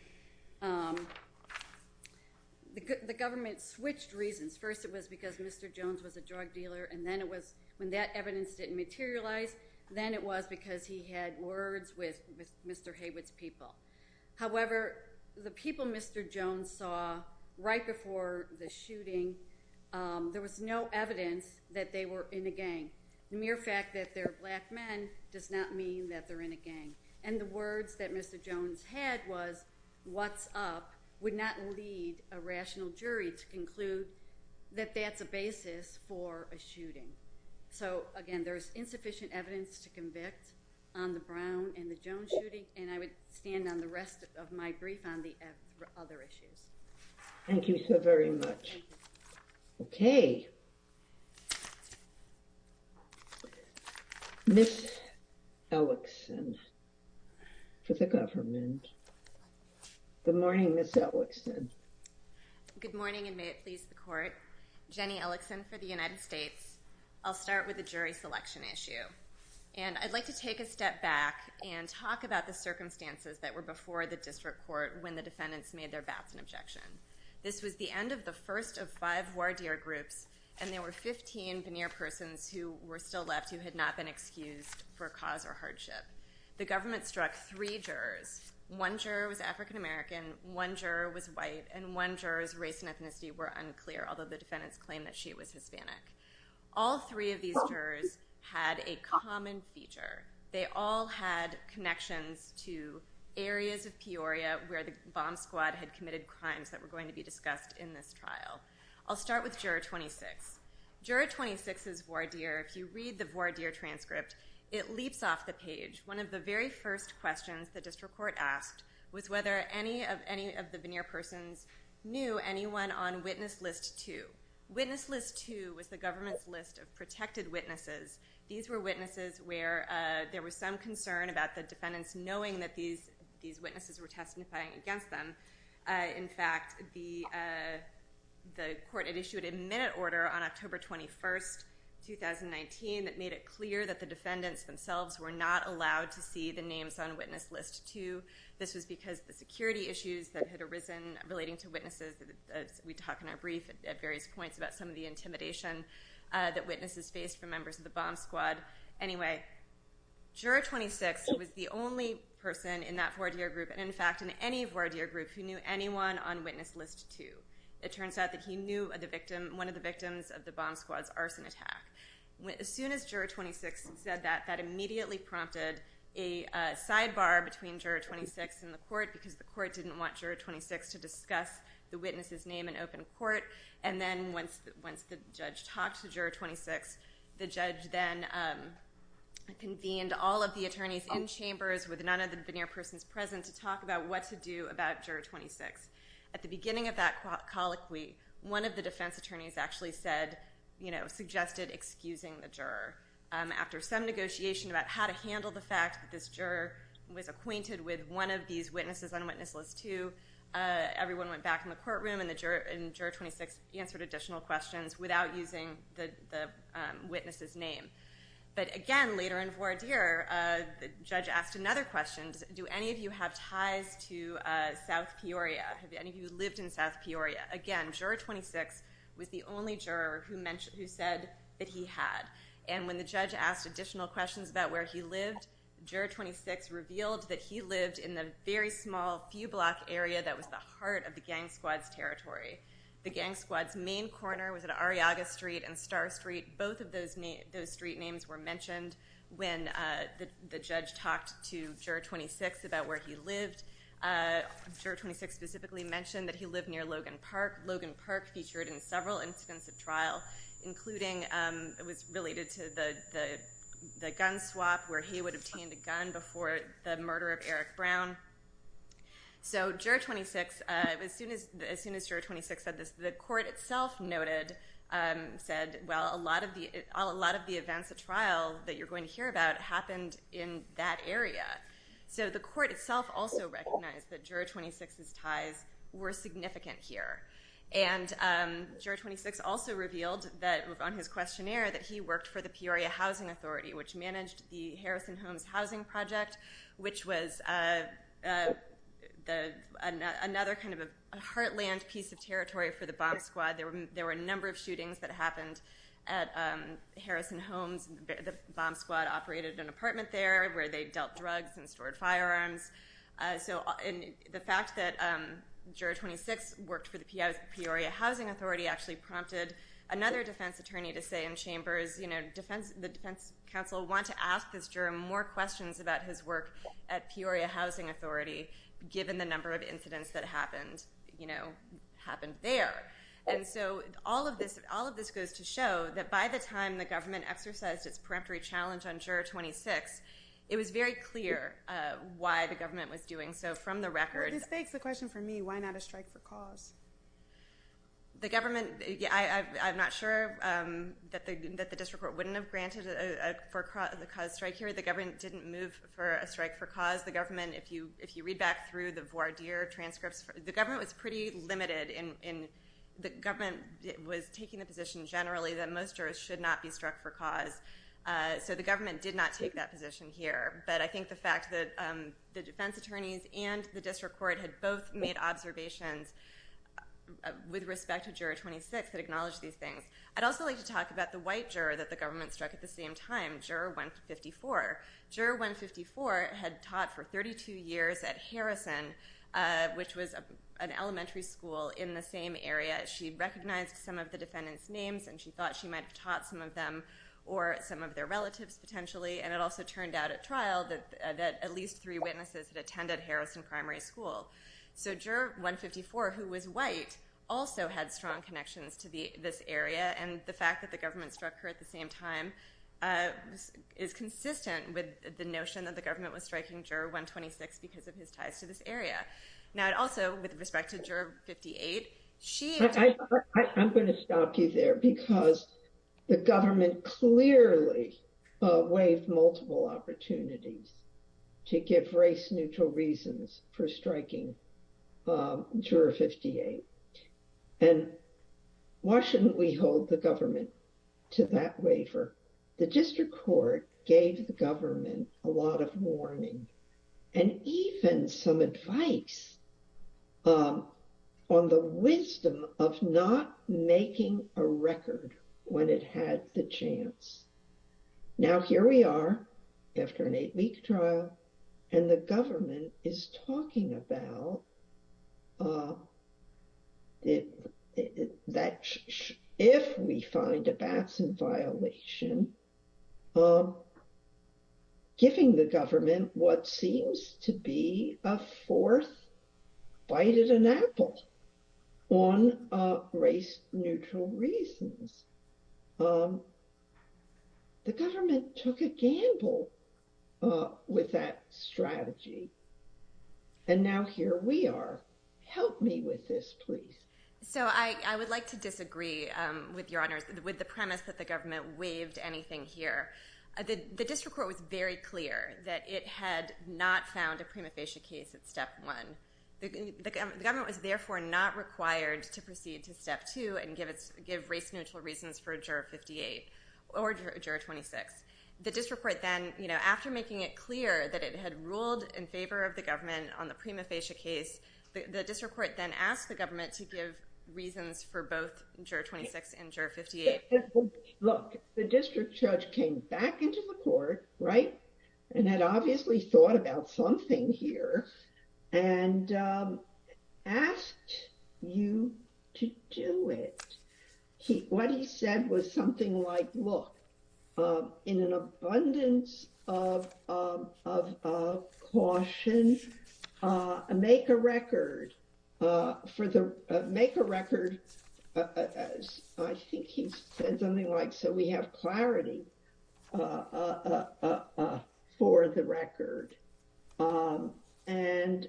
The government switched reasons. First it was because Mr. Jones was a drug dealer, and then it was when that evidence didn't materialize, then it was because he had words with Mr. Haywood's people. However, the people Mr. Jones saw right before the shooting, there was no evidence that they were in a gang. The mere fact that they're black men does not mean that they're in a gang. And the words that Mr. Jones had was, what's up, would not lead a rational jury to conclude that that's the basis for a shooting. So again, there's insufficient evidence to convict on the Brown and the Jones shootings, and I would stand on the rest of my brief on the other issues. Thank you so very much. Okay. Ms. Ellickson for the government. Good morning, Ms. Ellickson. Good morning, and may it please the court. Jenny Ellickson for the United States. I'll start with the jury selection issue, and I'd like to take a step back and talk about the circumstances that were before the district court when the defendants made their vows and objections. This was the end of the first of five voir dire groups, and there were 15 veneer persons who were still left who had not been excused for cause or hardship. The government struck three jurors. One juror was African American, one juror was white, and one juror's race and ethnicity were unclear, although the defendants claimed that she was Hispanic. All three of these jurors had a common feature. They all had connections to areas of Peoria where the bomb squad had committed crimes that were going to be discussed in this trial. I'll start with juror 26. Juror 26 is voir dire. If you read the voir dire transcript, it leaps off the page. One of the very first questions the district court asked was whether any of the veneer persons knew anyone on witness list two. Witness list two was the government's list of protected witnesses. These were witnesses where there was some concern about the defendants knowing that these witnesses were testifying against them. In fact, the court had issued a minute order on October 21, 2019, that made it clear that the defendants themselves were not allowed to see the names on witness list two. This is because the security issues that had arisen relating to witnesses, as we talk in our brief at various points about some of the intimidation that witnesses faced from members of the bomb squad. Juror 26 was the only person in that voir dire group, and in fact in any voir dire group, who knew anyone on witness list two. It turns out that he knew one of the victims of the bomb squad's arson attack. As soon as juror 26 said that, that immediately prompted a sidebar between juror 26 and the court because the court didn't want juror 26 to discuss the witness's name in open court. Once the judge talked to juror 26, the judge then convened all of the attorneys in chambers with none of the veneer persons present to talk about what to do about juror 26. At the beginning of that colloquy, one of the defense attorneys suggested excusing the juror. After some negotiation about how to handle the fact that this juror was acquainted with one of these witnesses on witness list two, everyone went back in the courtroom and juror 26 answered additional questions without using the witness's name. But again, later in voir dire, the judge asked another question. Do any of you have ties to South Peoria? Have any of you lived in South Peoria? Again, juror 26 was the only juror who said that he had. And when the judge asked additional questions about where he lived, juror 26 revealed that he lived in a very small, few block area that was the heart of the gang squad's territory. The gang squad's main corner was at Arriaga Street and Star Street. Both of those street names were mentioned when the judge talked to juror 26 about where he lived. Juror 26 specifically mentioned that he lived near Logan Park. Logan Park featured in several instances of trial, including, it was related to the gun swap where he would have obtained a gun before the murder of Eric Brown. So juror 26, as soon as juror 26 said this, the court itself noted, said, well, a lot of the events at trial that you're going to hear about happened in that area. So the court itself also recognized that juror 26's ties were significant here. And juror 26 also revealed on his questionnaire that he worked for the Peoria Housing Authority, which managed the Harrison Homes Housing Project, which was another kind of a heartland piece of territory for the bomb squad. There were a number of shootings that happened at Harrison Homes. The bomb squad operated an apartment there where they dealt drugs and stored firearms. The fact that juror 26 worked for the Peoria Housing Authority actually prompted another defense attorney to say in chambers, the defense counsel wanted to ask this juror more questions about his work at Peoria Housing Authority, given the number of incidents that happened there. And so all of this goes to show that by the time the government exercised its peremptory challenge on juror 26, it was very clear why the government was doing so from the record. It begs the question for me, why not a strike for cause? I'm not sure that the district court wouldn't have granted a cause strike here. The government didn't move for a strike for cause. If you read back through the voir dire transcripts, the government was pretty limited. The government was taking a position generally that most jurors should not be struck for cause. So the government did not take that position here. But I think the fact that the defense attorneys and the district court had both made observations with respect to juror 26 that acknowledged these things. I'd also like to talk about the white juror that the government struck at the same time, juror 154. Juror 154 had taught for 32 years at Harrison, which was an elementary school in the same area. She recognized some of the defendants' names and she thought she might have taught some of them or some of their relatives potentially. It also turned out at trial that at least three witnesses attended Harrison Primary School. Juror 154, who was white, also had strong connections to this area. The fact that the government struck her at the same time is consistent with the notion that the government was striking juror 126 because of his ties to this area. Now, also with respect to juror 58, she... I'm going to stop you there because the government clearly waived multiple opportunities to give race-neutral reasons for striking juror 58. And why shouldn't we hold the government to that waiver? The district court gave the government a lot of warning and even some advice on the wisdom of not making a record when it had the chance. Now, here we are after an eight-week trial and the government is talking about that if we find a Batson violation, giving the government what seems to be a fourth bite at an apple on race-neutral reasons. The government took a gamble with that strategy. And now here we are. Help me with this, please. So, I would like to disagree with Your Honor with the premise that the government waived anything here. The district court was very clear that it had not found a prima facie case at step one. The government was therefore not required to proceed to step two and give race-neutral reasons for juror 58 or juror 26. The district court then, after making it clear that it had ruled in favor of the government on the prima facie case, the district court then asked the government to give reasons for both juror 26 and juror 58. Look, the district judge came back into the court, right, and had obviously thought about something here and asked you to do it. What he said was something like, look, in an abundance of caution, make a record. Make a record, I think he said something like, so we have clarity for the record. And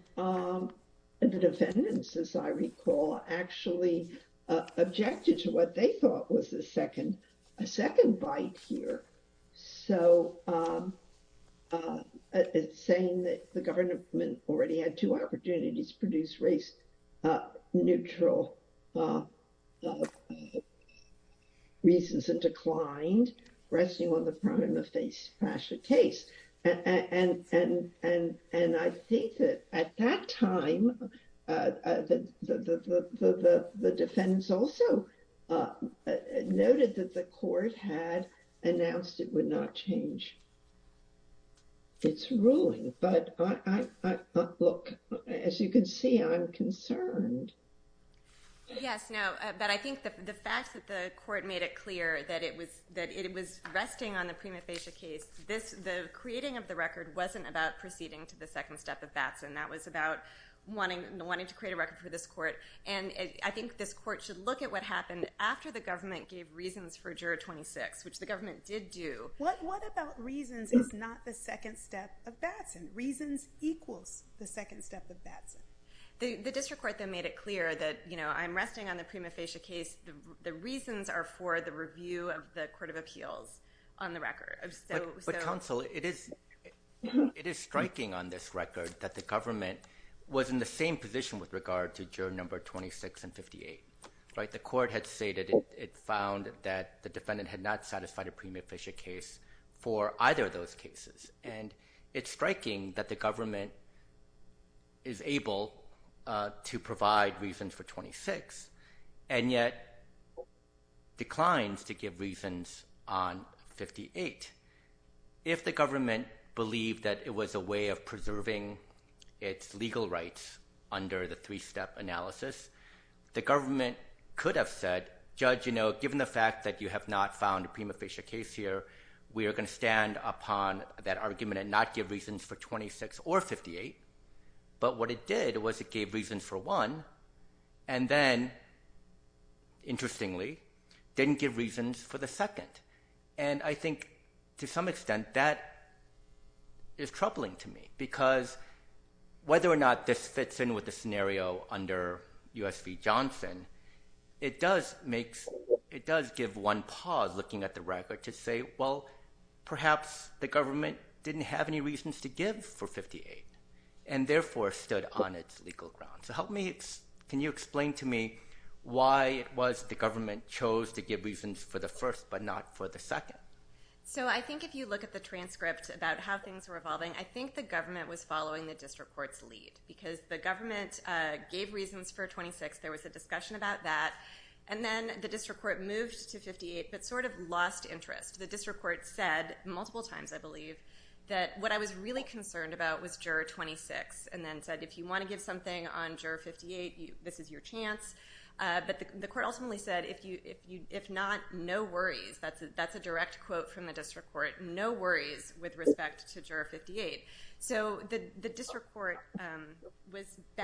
the defendants, as I recall, actually objected to what they thought was a second bite here. So, it's saying that the government already had two opportunities to produce race-neutral reasons that declined, resting on the prima facie case. And I think that at that time, the defendants also noted that the court had announced it would not change its ruling. But look, as you can see, I'm concerned. Yes, no, but I think that the fact that the court made it clear that it was resting on the prima facie case, the creating of the record wasn't about proceeding to the second step of Batson. That was about wanting to create a record for this court. And I think this court should look at what happened after the government gave reasons for juror 26, which the government did do. What about reasons if not the second step of Batson? Reasons equals the second step of Batson. The district court then made it clear that, you know, I'm resting on the prima facie case. The reasons are for the review of the court of appeals on the record. But counsel, it is striking on this record that the government was in the same position with regard to juror number 26 and 58. The court had stated it found that the defendant had not satisfied a prima facie case for either of those cases. And it's striking that the government is able to provide reasons for 26 and yet declines to give reasons on 58. If the government believed that it was a way of preserving its legal rights under the three-step analysis, the government could have said, Judge, you know, given the fact that you have not found a prima facie case here, we are going to stand upon that argument and not give reasons for 26 or 58. But what it did was it gave reasons for one and then, interestingly, didn't give reasons for the second. And I think to some extent that is troubling to me because whether or not this fits in with the scenario under U.S. v. Johnson, it does make – it does give one pause looking at the record to say, well, perhaps the government didn't have any reasons to give for 58 and therefore stood on its legal grounds. So help me – can you explain to me why it was the government chose to give reasons for the first but not for the second? So I think if you look at the transcript about how things were evolving, I think the government was following the district court's lead because the government gave reasons for 26. There was a discussion about that. And then the district court moved to 58 but sort of lost interest. The district court said multiple times, I believe, that what I was really concerned about was juror 26 and then said, if you want to give something on juror 58, this is your chance. But the court ultimately said, if not, no worries. That's a direct quote from the district court. No worries with respect to juror 58. So the district court was –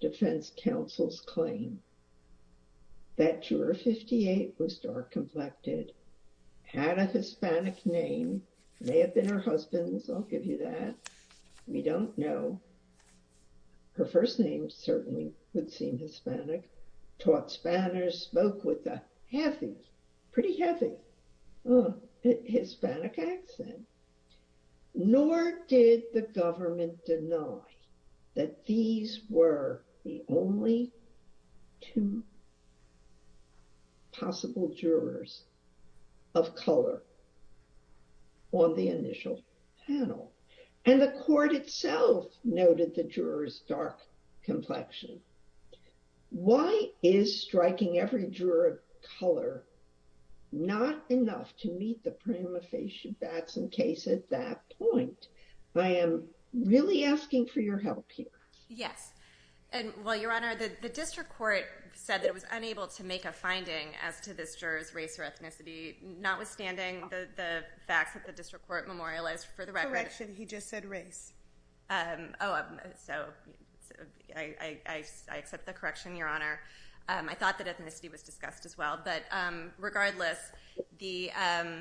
Pretty hesitant. Hispanic accent. Nor did the government deny that these were the only two possible jurors of color on the initial panel. And the court itself noted the juror's dark complexion. Why is striking every juror of color not enough to meet the prima facie facts and case at that point? I am really asking for your help here. Yes. Well, Your Honor, the district court said it was unable to make a finding as to this juror's race or ethnicity, notwithstanding the fact that the district court memorialized for the record. He just said race. I took the correction, Your Honor. I thought that ethnicity was discussed as well. But regardless, the –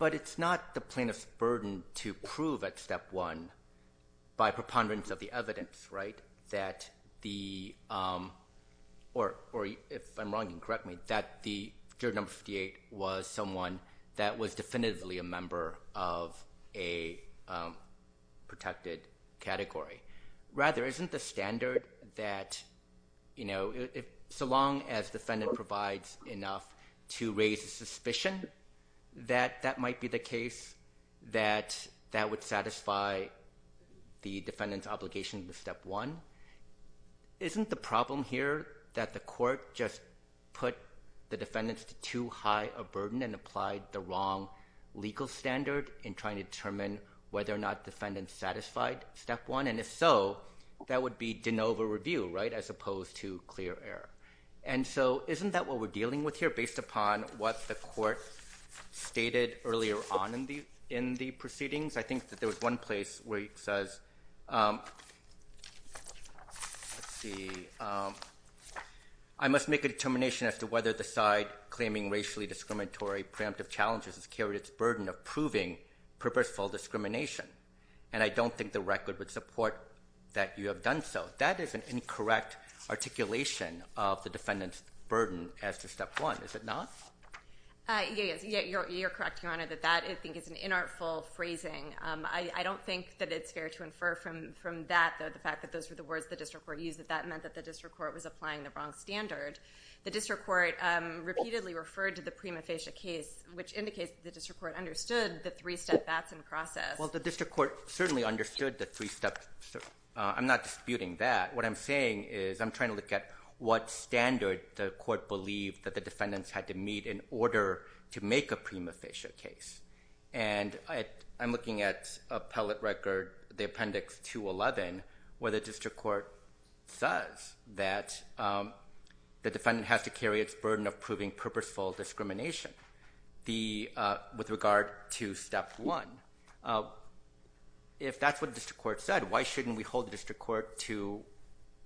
But it's not the plaintiff's burden to prove at step one by preponderance of the evidence, right? Or if I'm wrong, you can correct me, that the juror number 58 was someone that was definitively a member of a protected category. Rather, isn't the standard that, you know, so long as the defendant provides enough to raise the suspicion that that might be the case, that that would satisfy the defendant's obligation to step one? Isn't the problem here that the court just put the defendants to too high a burden and applied the wrong legal standard in trying to determine whether or not defendants satisfied step one? And if so, that would be de novo review, right, as opposed to clear error. And so isn't that what we're dealing with here based upon what the court stated earlier on in the proceedings? I think that there was one place where he says, let's see, I must make a determination as to whether the side claiming racially discriminatory preemptive challenges has carried its burden of proving purposeful discrimination. And I don't think the record would support that you have done so. That is an incorrect articulation of the defendant's burden as to step one, is it not? You're correct, Your Honor, that that I think is an inartful phrasing. I don't think that it's fair to infer from that that the fact that those were the words the district court used, that that meant that the district court was applying the wrong standard. The district court repeatedly referred to the prima facie case, which indicates that the district court understood the three step back in process. Well, the district court certainly understood the three steps. I'm not disputing that. What I'm saying is I'm trying to look at what standard the court believed that the defendants had to meet in order to make a prima facie case. And I'm looking at appellate record, the appendix 211, where the district court says that the defendant has to carry its burden of proving purposeful discrimination. With regard to step one, if that's what the district court said, why shouldn't we hold the district court to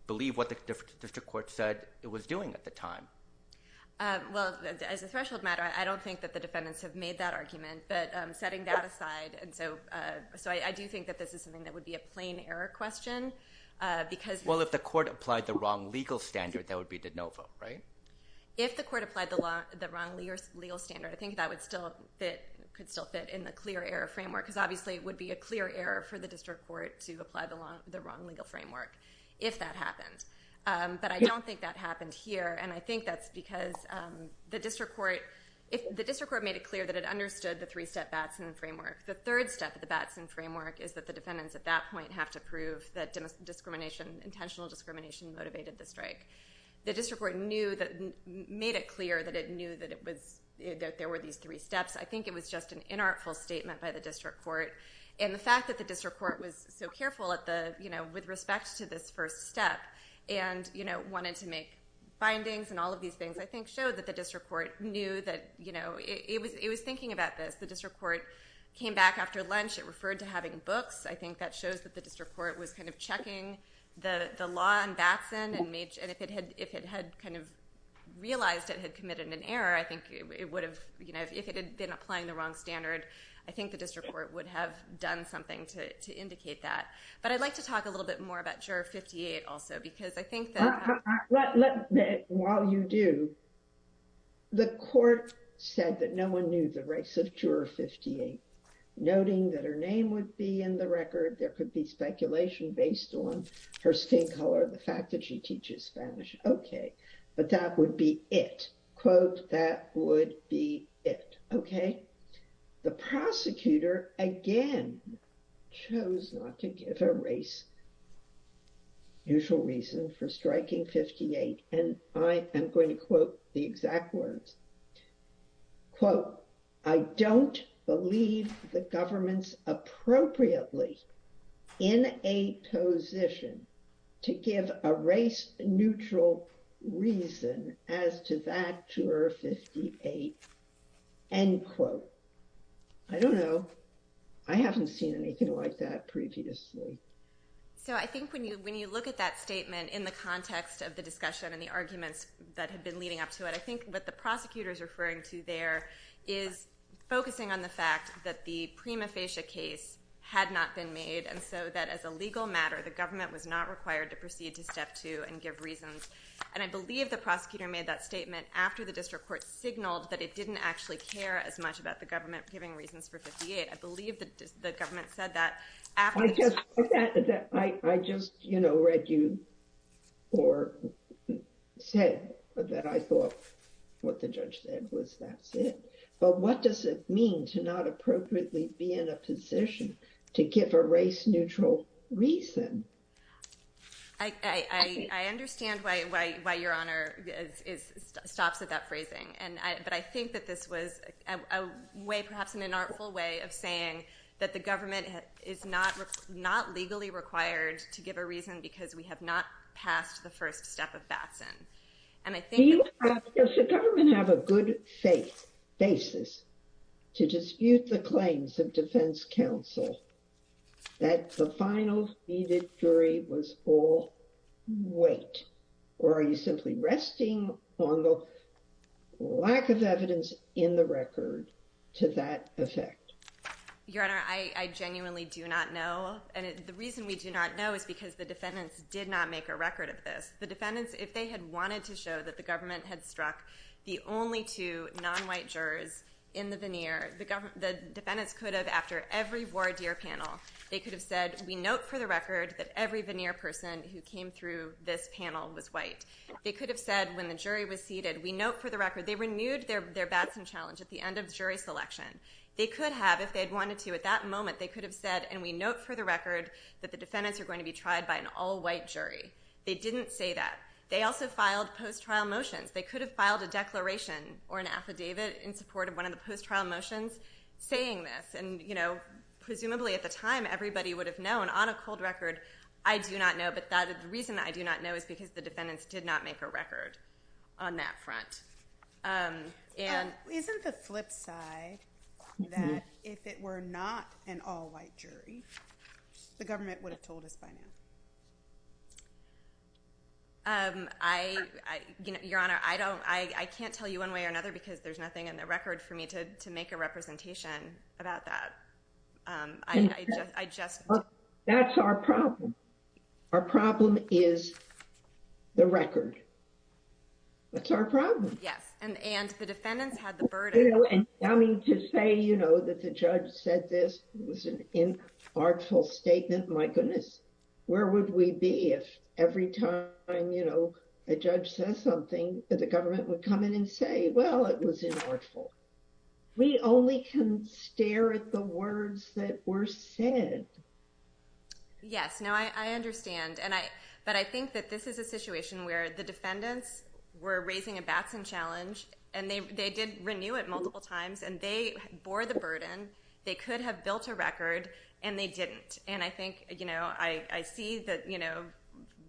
believe what the district court said it was doing at the time? Well, as a special matter, I don't think that the defendants have made that argument. But setting that aside, I do think that this is something that would be a plain error question. Well, if the court applied the wrong legal standard, that would be de novo, right? If the court applied the wrong legal standard, I think that could still fit in the clear error framework, because obviously it would be a clear error for the district court to apply the wrong legal framework if that happens. But I don't think that happened here. And I think that's because the district court made it clear that it understood the three step Batson framework. The third step of the Batson framework is that the defendants at that point have to prove that intentional discrimination motivated the strike. The district court made it clear that it knew that there were these three steps. I think it was just an inartful statement by the district court. And the fact that the district court was so careful with respect to this first step and wanted to make findings and all of these things, I think shows that the district court knew that it was thinking about this. The district court came back after lunch. It referred to having books. I think that shows that the district court was kind of checking the law on Batson. And if it had kind of realized it had committed an error, I think it would have, you know, if it had been applying the wrong standard, I think the district court would have done something to indicate that. But I'd like to talk a little bit more about Juror 58 also, because I think that... While you do, the court said that no one knew the race of Juror 58, noting that her name would be in the record. There could be speculation based on her skin color, the fact that she teaches Spanish. Okay, but that would be it. Quote, that would be it. Okay, the prosecutor, again, chose not to give a race neutral reason for striking 58. And I am going to quote the exact words. Quote, I don't believe the government's appropriately in a position to give a race neutral reason as to that Juror 58. End quote. I don't know. I haven't seen anything like that previously. So I think when you look at that statement in the context of the discussion and the arguments that have been leading up to it, I think what the prosecutor is referring to there is focusing on the fact that the prima facie case had not been made, and so that as a legal matter, the government was not required to proceed to step two and give reasons. And I believe the prosecutor made that statement after the district court signaled that it didn't actually care as much about the government giving reasons for 58. I believe the government said that. I just read you or said that I thought what the judge said was that's it. But what does it mean to not appropriately be in a position to give a race neutral reason? I understand why your Honor stops at that phrasing. But I think that this was a way perhaps in an artful way of saying that the government is not legally required to give a reason because we have not passed the first step of BASN. Does the government have a good safe basis to dispute the claims of defense counsel that the final needed jury was all wait? Or are you simply resting on the lack of evidence in the record to that effect? Your Honor, I genuinely do not know. And the reason we do not know is because the defendants did not make a record of this. The defendants, if they had wanted to show that the government had struck the only two non-white jurors in the veneer, the defendants could have, after every voir dire panel, they could have said we note for the record that every veneer person who came through this panel was white. They could have said when the jury was seated, we note for the record, they renewed their BASN challenge at the end of jury selection. They could have, if they had wanted to at that moment, they could have said and we note for the record that the defendants are going to be tried by an all-white jury. They didn't say that. They also filed post-trial motions. They could have filed a declaration or an affidavit in support of one of the post-trial motions saying this. Presumably at the time, everybody would have known. On a cold record, I do not know. But the reason I do not know is because the defendants did not make a record on that front. Isn't the flip side that if it were not an all-white jury, the government would have told us by now? Your Honor, I can't tell you one way or another because there's nothing in the record for me to make a representation about that. That's our problem. Our problem is the record. That's our problem. And the defendants had the burden. To say that the judge said this was an inartful statement, my goodness. Where would we be if every time a judge says something, the government would come in and say, well, it was inartful. We only can stare at the words that were said. Yes, I understand. But I think that this is a situation where the defendants were raising a baffling challenge, and they did renew it multiple times, and they bore the burden. They could have built a record, and they didn't. And I think I see that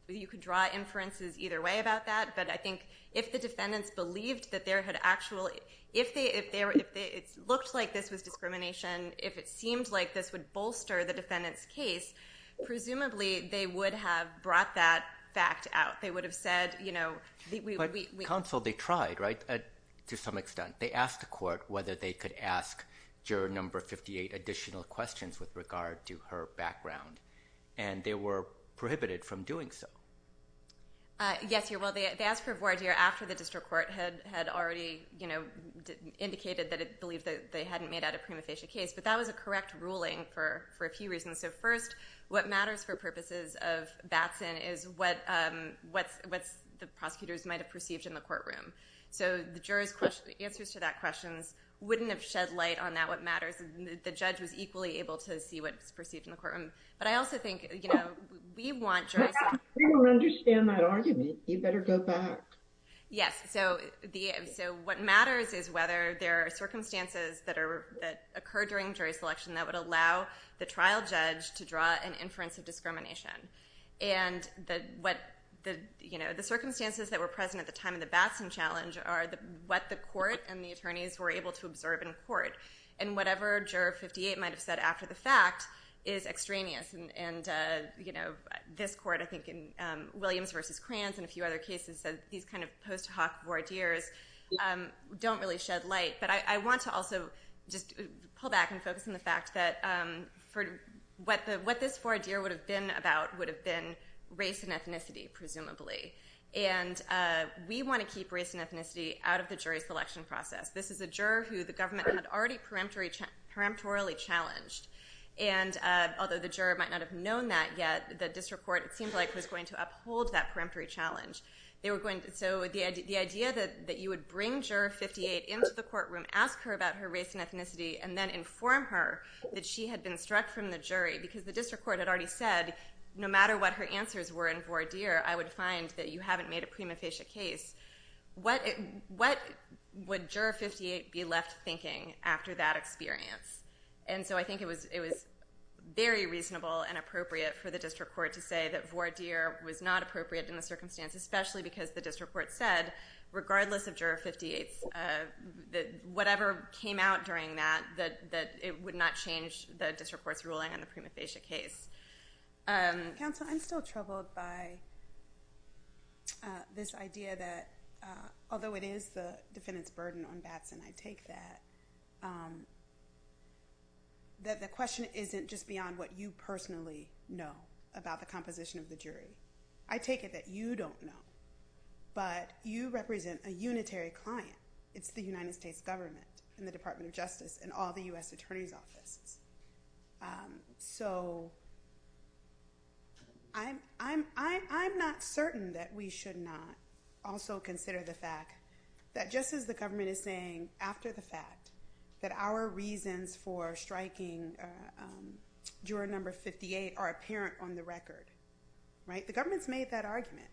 you could draw inferences either way about that. But I think if the defendants believed that there had actually – if it looked like this was discrimination, if it seemed like this would bolster the defendant's case, presumably they would have brought that fact out. They would have said – But counsel, they tried, right, to some extent. They asked the court whether they could ask juror number 58 additional questions with regard to her background. And they were prohibited from doing so. Yes, you're right. They asked for a board hearing after the district court had already indicated that it believed that they hadn't made out a criminalization case. But that was a correct ruling for a few reasons. What matters for purposes of Batson is what the prosecutors might have perceived in the courtroom. So the jurors' answers to that question wouldn't have shed light on that. What matters is that the judge was equally able to see what was perceived in the courtroom. But I also think, you know, we want jurors – We don't understand that argument. You'd better go back. Yes, so what matters is whether there are circumstances that occur during jury selection that would allow the trial judge to draw an inference of discrimination. And the circumstances that were present at the time of the Batson challenge are what the court and the attorneys were able to observe in court. And whatever juror 58 might have said after the fact is extraneous. And, you know, this court, I think, in Williams v. Klans and a few other cases, these kind of post hoc voir dires don't really shed light. But I want to also just pull back and focus on the fact that what this voir dire would have been about would have been race and ethnicity, presumably. And we want to keep race and ethnicity out of the jury selection process. This is a juror who the government had already peremptorily challenged. And although the juror might not have known that yet, the district court seemed like it was going to uphold that peremptory challenge. So the idea that you would bring juror 58 into the courtroom, ask her about her race and ethnicity, and then inform her that she had been struck from the jury. Because the district court had already said, no matter what her answers were in voir dire, I would find that you haven't made a prima facie case. What would juror 58 be left thinking after that experience? And so I think it was very reasonable and appropriate for the district court to say that voir dire was not appropriate in the circumstance, especially because the district court said, regardless of juror 58, that whatever came out during that, that it would not change the district court's ruling on the prima facie case. Counsel, I'm still troubled by this idea that, although it is the defendant's burden on Batson, I take that, that the question isn't just beyond what you personally know about the composition of the jury. I take it that you don't know, but you represent a unitary client. It's the United States government and the Department of Justice and all the U.S. Attorney's Office. So I'm not certain that we should not also consider the fact that just as the government is saying, after the fact, that our reasons for striking juror number 58 are apparent on the record. The government's made that argument.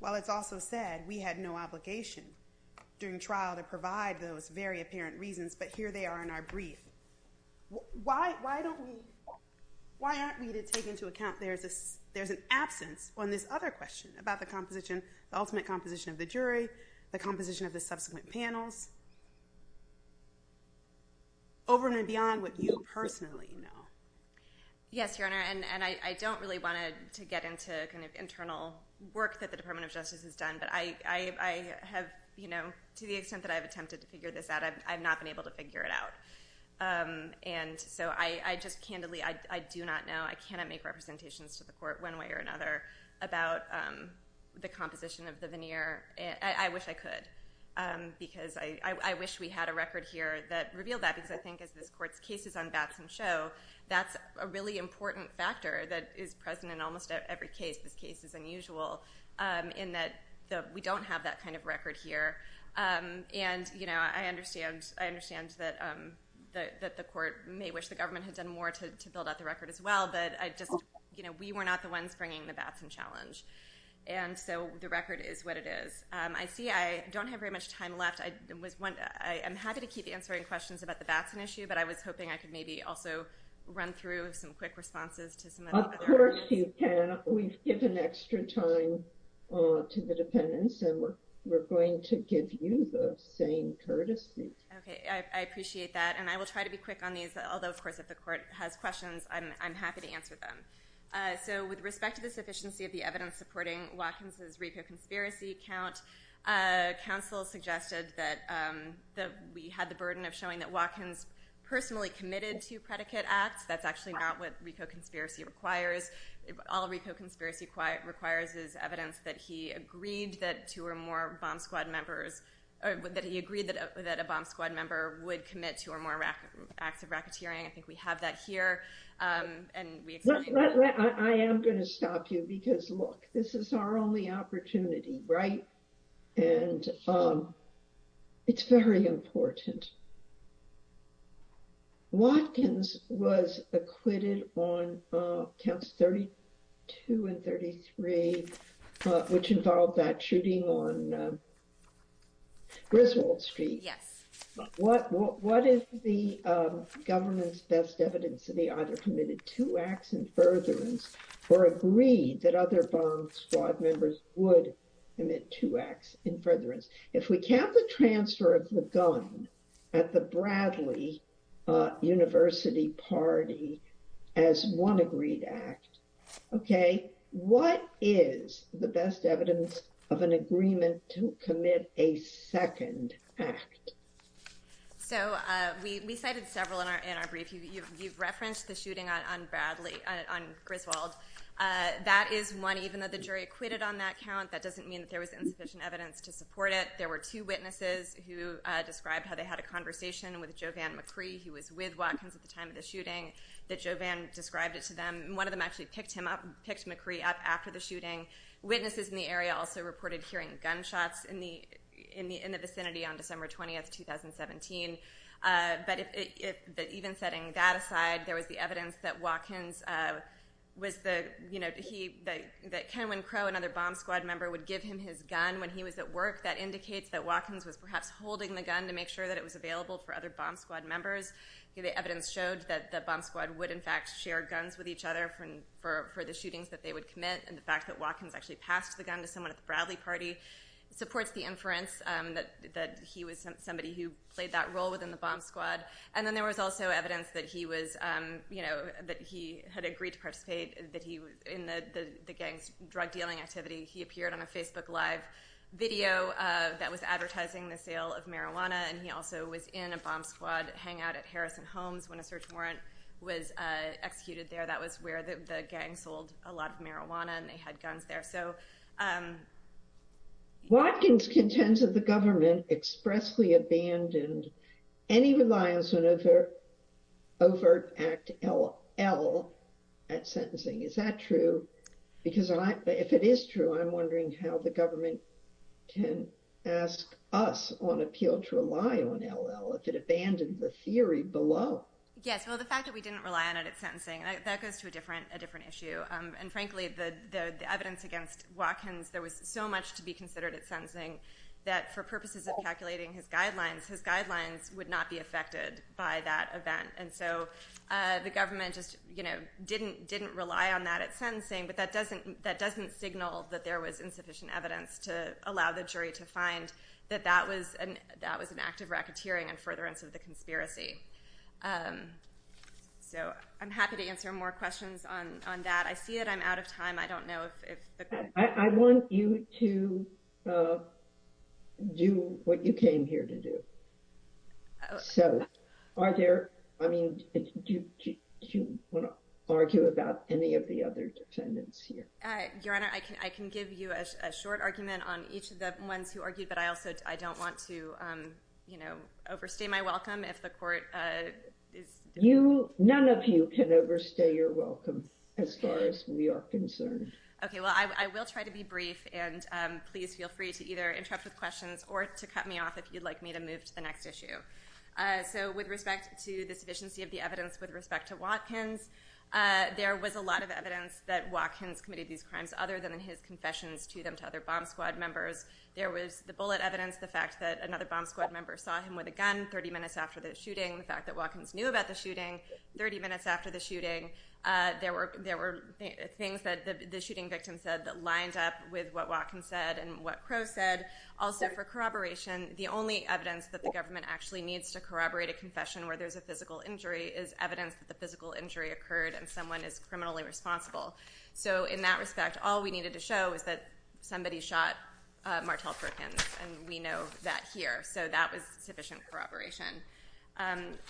While it's also said we had no obligation during trial to provide those very apparent reasons, but here they are in our brief. Why aren't we to take into account there's an absence on this other question about the ultimate composition of the jury, the composition of the subsequent panels, over and beyond what you personally know? Yes, Your Honor, and I don't really want to get into the internal work that the Department of Justice has done, but to the extent that I've attempted to figure this out, I've not been able to figure it out. And so I just candidly, I do not know. I cannot make representations to the court one way or another about the composition of the veneer. I wish I could, because I wish we had a record here that revealed that, because I think as this Court's cases unbatch can show, that's a really important factor that is present in almost every case. This case is unusual in that we don't have that kind of record here. And I understand that the court may wish the government had done more to build up the record as well, but we were not the ones bringing the BASM challenge. And so the record is what it is. I see I don't have very much time left. I'm happy to keep answering questions about the BASM issue, but I was hoping I could maybe also run through some quick responses to some of those questions. Of course you can. We've given extra time to the defendants, and we're going to give you the same courtesy. Okay, I appreciate that. And I will try to be quick on these, although of course if the court has questions, I'm happy to answer them. So with respect to the sufficiency of the evidence supporting Watkins' RICO conspiracy account, counsel suggested that we had the burden of showing that Watkins personally committed to predicate acts. That's actually not what RICO conspiracy requires. All RICO conspiracy requires is evidence that he agreed that two or more BOM Squad members, that he agreed that a BOM Squad member would commit to a more active racketeering. I think we have that here. I am going to stop you because look, this is our only opportunity, right? And it's very important. Watkins was acquitted on Camps 32 and 33, which involved that shooting on Griswold Street. What is the government's best evidence to be either committed two acts in furtherance or agreed that other BOM Squad members would commit two acts in furtherance? If we count the transfer of the gun at the Bradley University party as one agreed act, what is the best evidence of an agreement to commit a second act? So we cited several in our brief. You've referenced the shooting on Griswold. That is one, even though the jury acquitted on that count, that doesn't mean that there was insufficient evidence to support it. There were two witnesses who described how they had a conversation with Jovan McCree, who was with Watkins at the time of the shooting, that Jovan described it to them. And one of them actually picked McCree up after the shooting. Witnesses in the area also reported hearing gunshots in the vicinity on December 20, 2017. But even setting that aside, there was the evidence that Watkins, that Cameron Crowe, another BOM Squad member, would give him his gun when he was at work. That indicates that Watkins was perhaps holding the gun to make sure that it was available for other BOM Squad members. The evidence showed that the BOM Squad would in fact share guns with each other for the shootings that they would commit. And the fact that Watkins actually passed the gun to someone at the Bradley party supports the inference that he was somebody who played that role within the BOM Squad. And then there was also evidence that he had agreed to participate in the gang's drug dealing activity. He appeared on a Facebook Live video that was advertising the sale of marijuana. And he also was in a BOM Squad hangout at Harrison Homes when a search warrant was executed there. That was where the gang sold a lot of marijuana and they had guns there. Watkins contends that the government expressly abandoned any reliance on Overt Act LL at sentencing. Is that true? Because if it is true, I'm wondering how the government can ask us on appeal to rely on LL if it abandoned the theory below. Yes, well the fact that we didn't rely on it at sentencing, that goes to a different issue. And frankly, the evidence against Watkins, there was so much to be considered at sentencing that for purposes of calculating his guidelines, his guidelines would not be affected by that event. And so the government just didn't rely on that at sentencing, but that doesn't signal that there was insufficient evidence to allow the jury to find that that was an act of racketeering in furtherance of the conspiracy. So I'm happy to answer more questions on that. I see that I'm out of time. I don't know if... I want you to do what you came here to do. So are there, I mean, do you want to argue about any of the other defendants here? Your Honor, I can give you a short argument on each of the ones who argue, but I also, I don't want to, you know, overstay my welcome if the court... You, none of you can overstay your welcome as far as we are concerned. Okay, well I will try to be brief and please feel free to either interrupt with questions or to cut me off if you'd like me to move to the next issue. So with respect to the sufficiency of the evidence with respect to Watkins, there was a lot of evidence that Watkins committed these crimes other than in his confessions to them, to other Bond Squad members. The bullet evidence, the fact that another Bond Squad member saw him with a gun 30 minutes after the shooting, the fact that Watkins knew about the shooting 30 minutes after the shooting, there were things that the shooting victim said that lined up with what Watkins said and what Crowe said. Also for corroboration, the only evidence that the government actually needs to corroborate a confession where there's a physical injury is evidence that the physical injury occurred and someone is criminally responsible. So in that respect, all we needed to show was that somebody shot Martel Perkins and we know that here, so that was sufficient corroboration.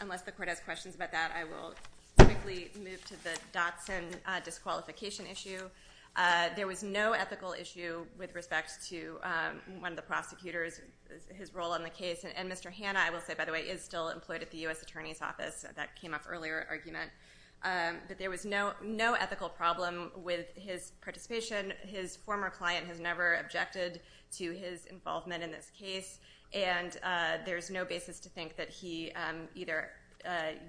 Unless the court has questions about that, I will quickly move to the Dockton disqualification issue. There was no ethical issue with respect to one of the prosecutors, his role in the case, and Mr. Hanna, I will say by the way, is still employed at the U.S. Attorney's Office. That came up earlier in the argument. But there was no ethical problem with his participation. His former client has never objected to his involvement in this case and there's no basis to think that he either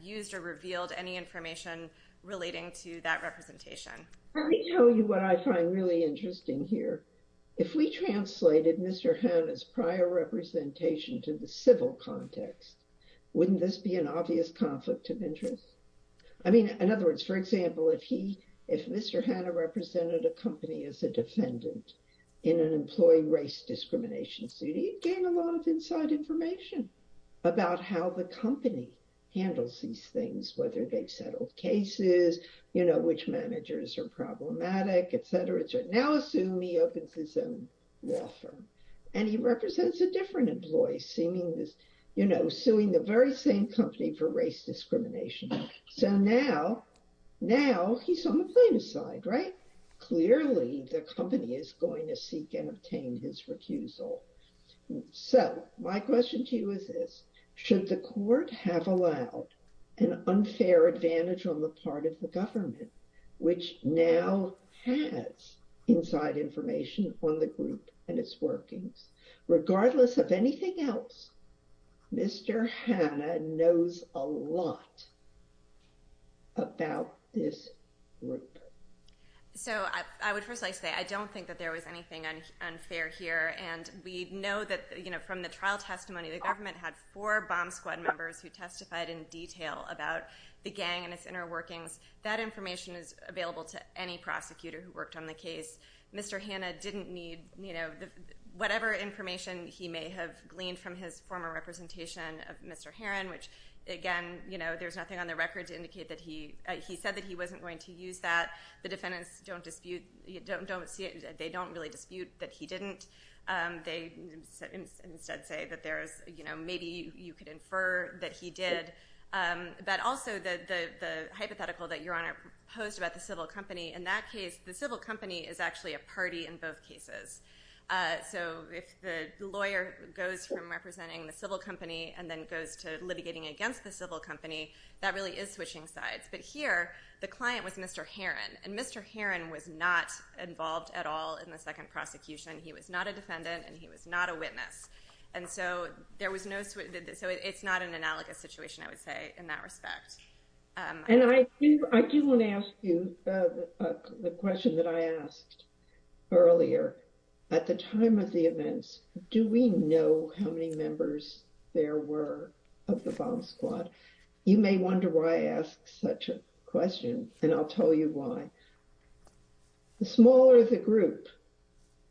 used or revealed any information relating to that representation. Let me tell you what I find really interesting here. If we translated Mr. Hanna's prior representation to the civil context, wouldn't this be an obvious conflict of interest? I mean, in other words, for example, if Mr. Hanna represented a company as a defendant in an employee race discrimination suit, he'd gain a lot of inside information about how the company handles these things, whether they've settled cases, which managers are problematic, etc. So now assume he opens his own law firm. And he represents a different employee, suing the very same company for race discrimination. Now he's on the plaintiff's side, right? Clearly the company is going to seek and obtain his recusal. So my question to you is this. Should the court have allowed an unfair advantage on the part of the government, which now has inside information on the group and its workings? Regardless of anything else, Mr. Hanna knows a lot. About this group. So I would first like to say I don't think that there was anything unfair here. And we know that from the trial testimony, the government had four bomb squad members who testified in detail about the gang and its inner workings. That information is available to any prosecutor who worked on the case. Mr. Hanna didn't need whatever information he may have gleaned from his former representation of Mr. Heron, which again, there's nothing on the record to indicate that he said that he wasn't going to use that. The defendants don't dispute, they don't really dispute that he didn't. They instead say that maybe you could infer that he did. But also the hypothetical that Your Honor posed about the civil company, in that case the civil company is actually a party in both cases. So if the lawyer goes from representing the civil company and then goes to litigating against the civil company, that really is switching sides. But here, the client was Mr. Heron. And Mr. Heron was not involved at all in the second prosecution. He was not a defendant and he was not a witness. And so it's not an analogous situation, I would say, in that respect. And I do want to ask you the question that I asked earlier. At the time of the events, do we know how many members there were of the bomb squad? You may wonder why I ask such a question and I'll tell you why. The smaller the group,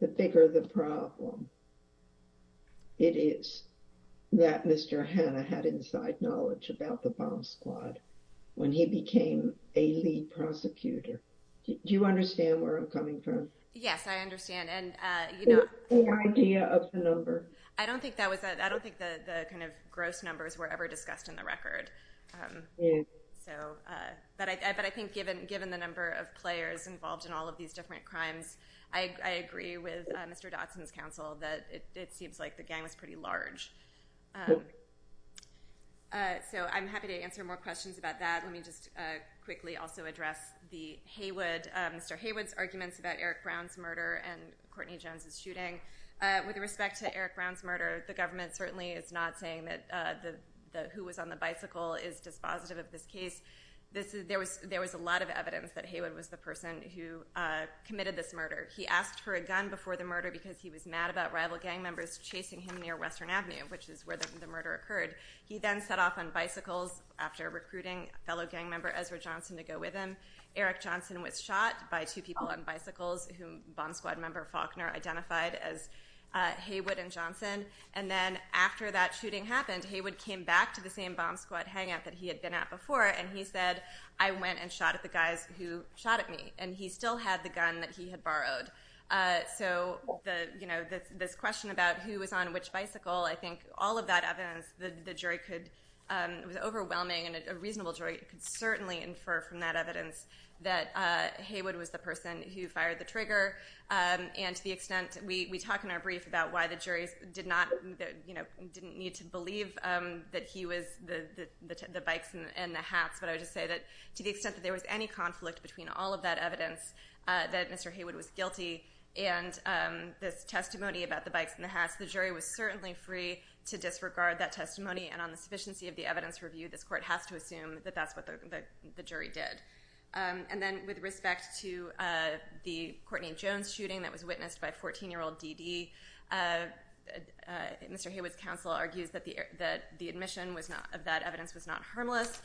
the bigger the problem. It is that Mr. Heron had inside knowledge about the bomb squad when he became a lead prosecutor. Do you understand where I'm coming from? Yes, I understand. What was the idea of the number? I don't think the gross numbers were ever discussed in the record. But I think given the number of players involved in all of these different crimes, I agree with Mr. Dotson's counsel that it seems like the gang was pretty large. So I'm happy to answer more questions about that. Let me just quickly also address Mr. Haywood's arguments about Eric Brown's murder and Courtney Jones's shooting. With respect to Eric Brown's murder, the government certainly is not saying that who was on the bicycle is dispositive of this case. There was a lot of evidence that Haywood was the person who committed this murder. He asked for a gun before the murder because he was mad about rival gang members chasing him near Western Avenue, which is where the murder occurred. He then set off on bicycles after recruiting fellow gang member Ezra Johnson to go with him. Eric Johnson was shot by two people on bicycles, who bomb squad member Faulkner identified as Haywood and Johnson. And then after that shooting happened, Haywood came back to the same bomb squad hangout that he had been at before, and he said, I went and shot at the guys who shot at me. And he still had the gun that he had borrowed. So this question about who was on which bicycle, I think all of that evidence, the jury could, it was overwhelming and a reasonable jury could certainly infer from that evidence that Haywood was the person who fired the trigger. And to the extent, we talked in our brief about why the jury did not, you know, didn't need to believe that he was the bikes and the hacks, but I would say that to the extent that there was any conflict between all of that evidence, that Mr. Haywood was guilty, and the testimony about the bikes and the hacks, the jury was certainly free to disregard that testimony. And on the sufficiency of the evidence review, this court has to assume that that's what the jury did. And then with respect to the Courtney Jones shooting that was witnessed by a 14-year-old DD, Mr. Haywood's counsel argues that the admission of that evidence was not harmless.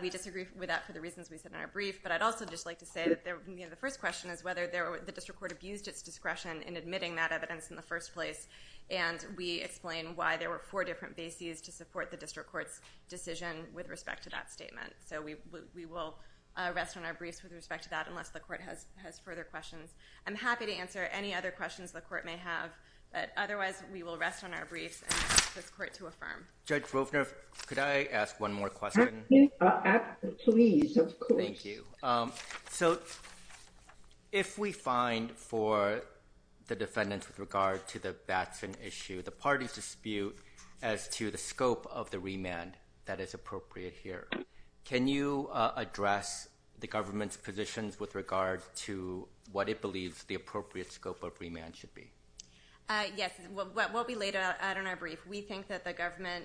We disagree with that for the reasons we said in our brief, but I'd also just like to say that, you know, the first question is whether the district court abused its discretion in admitting that evidence in the first place, and we explained why there were four different bases to support the district court's decision with respect to that statement. So we will rest on our briefs with respect to that, unless the court has further questions. I'm happy to answer any other questions the court may have, but otherwise we will rest on our briefs and ask the court to affirm. Judge Ropner, could I ask one more question? Absolutely, please. Thank you. So if we find for the defendants with regard to the Batson issue, the parties dispute as to the scope of the remand that is appropriate here. Can you address the government's positions with regard to what it believes the appropriate scope of remand should be? Yes, we'll be late on our brief. We think that the government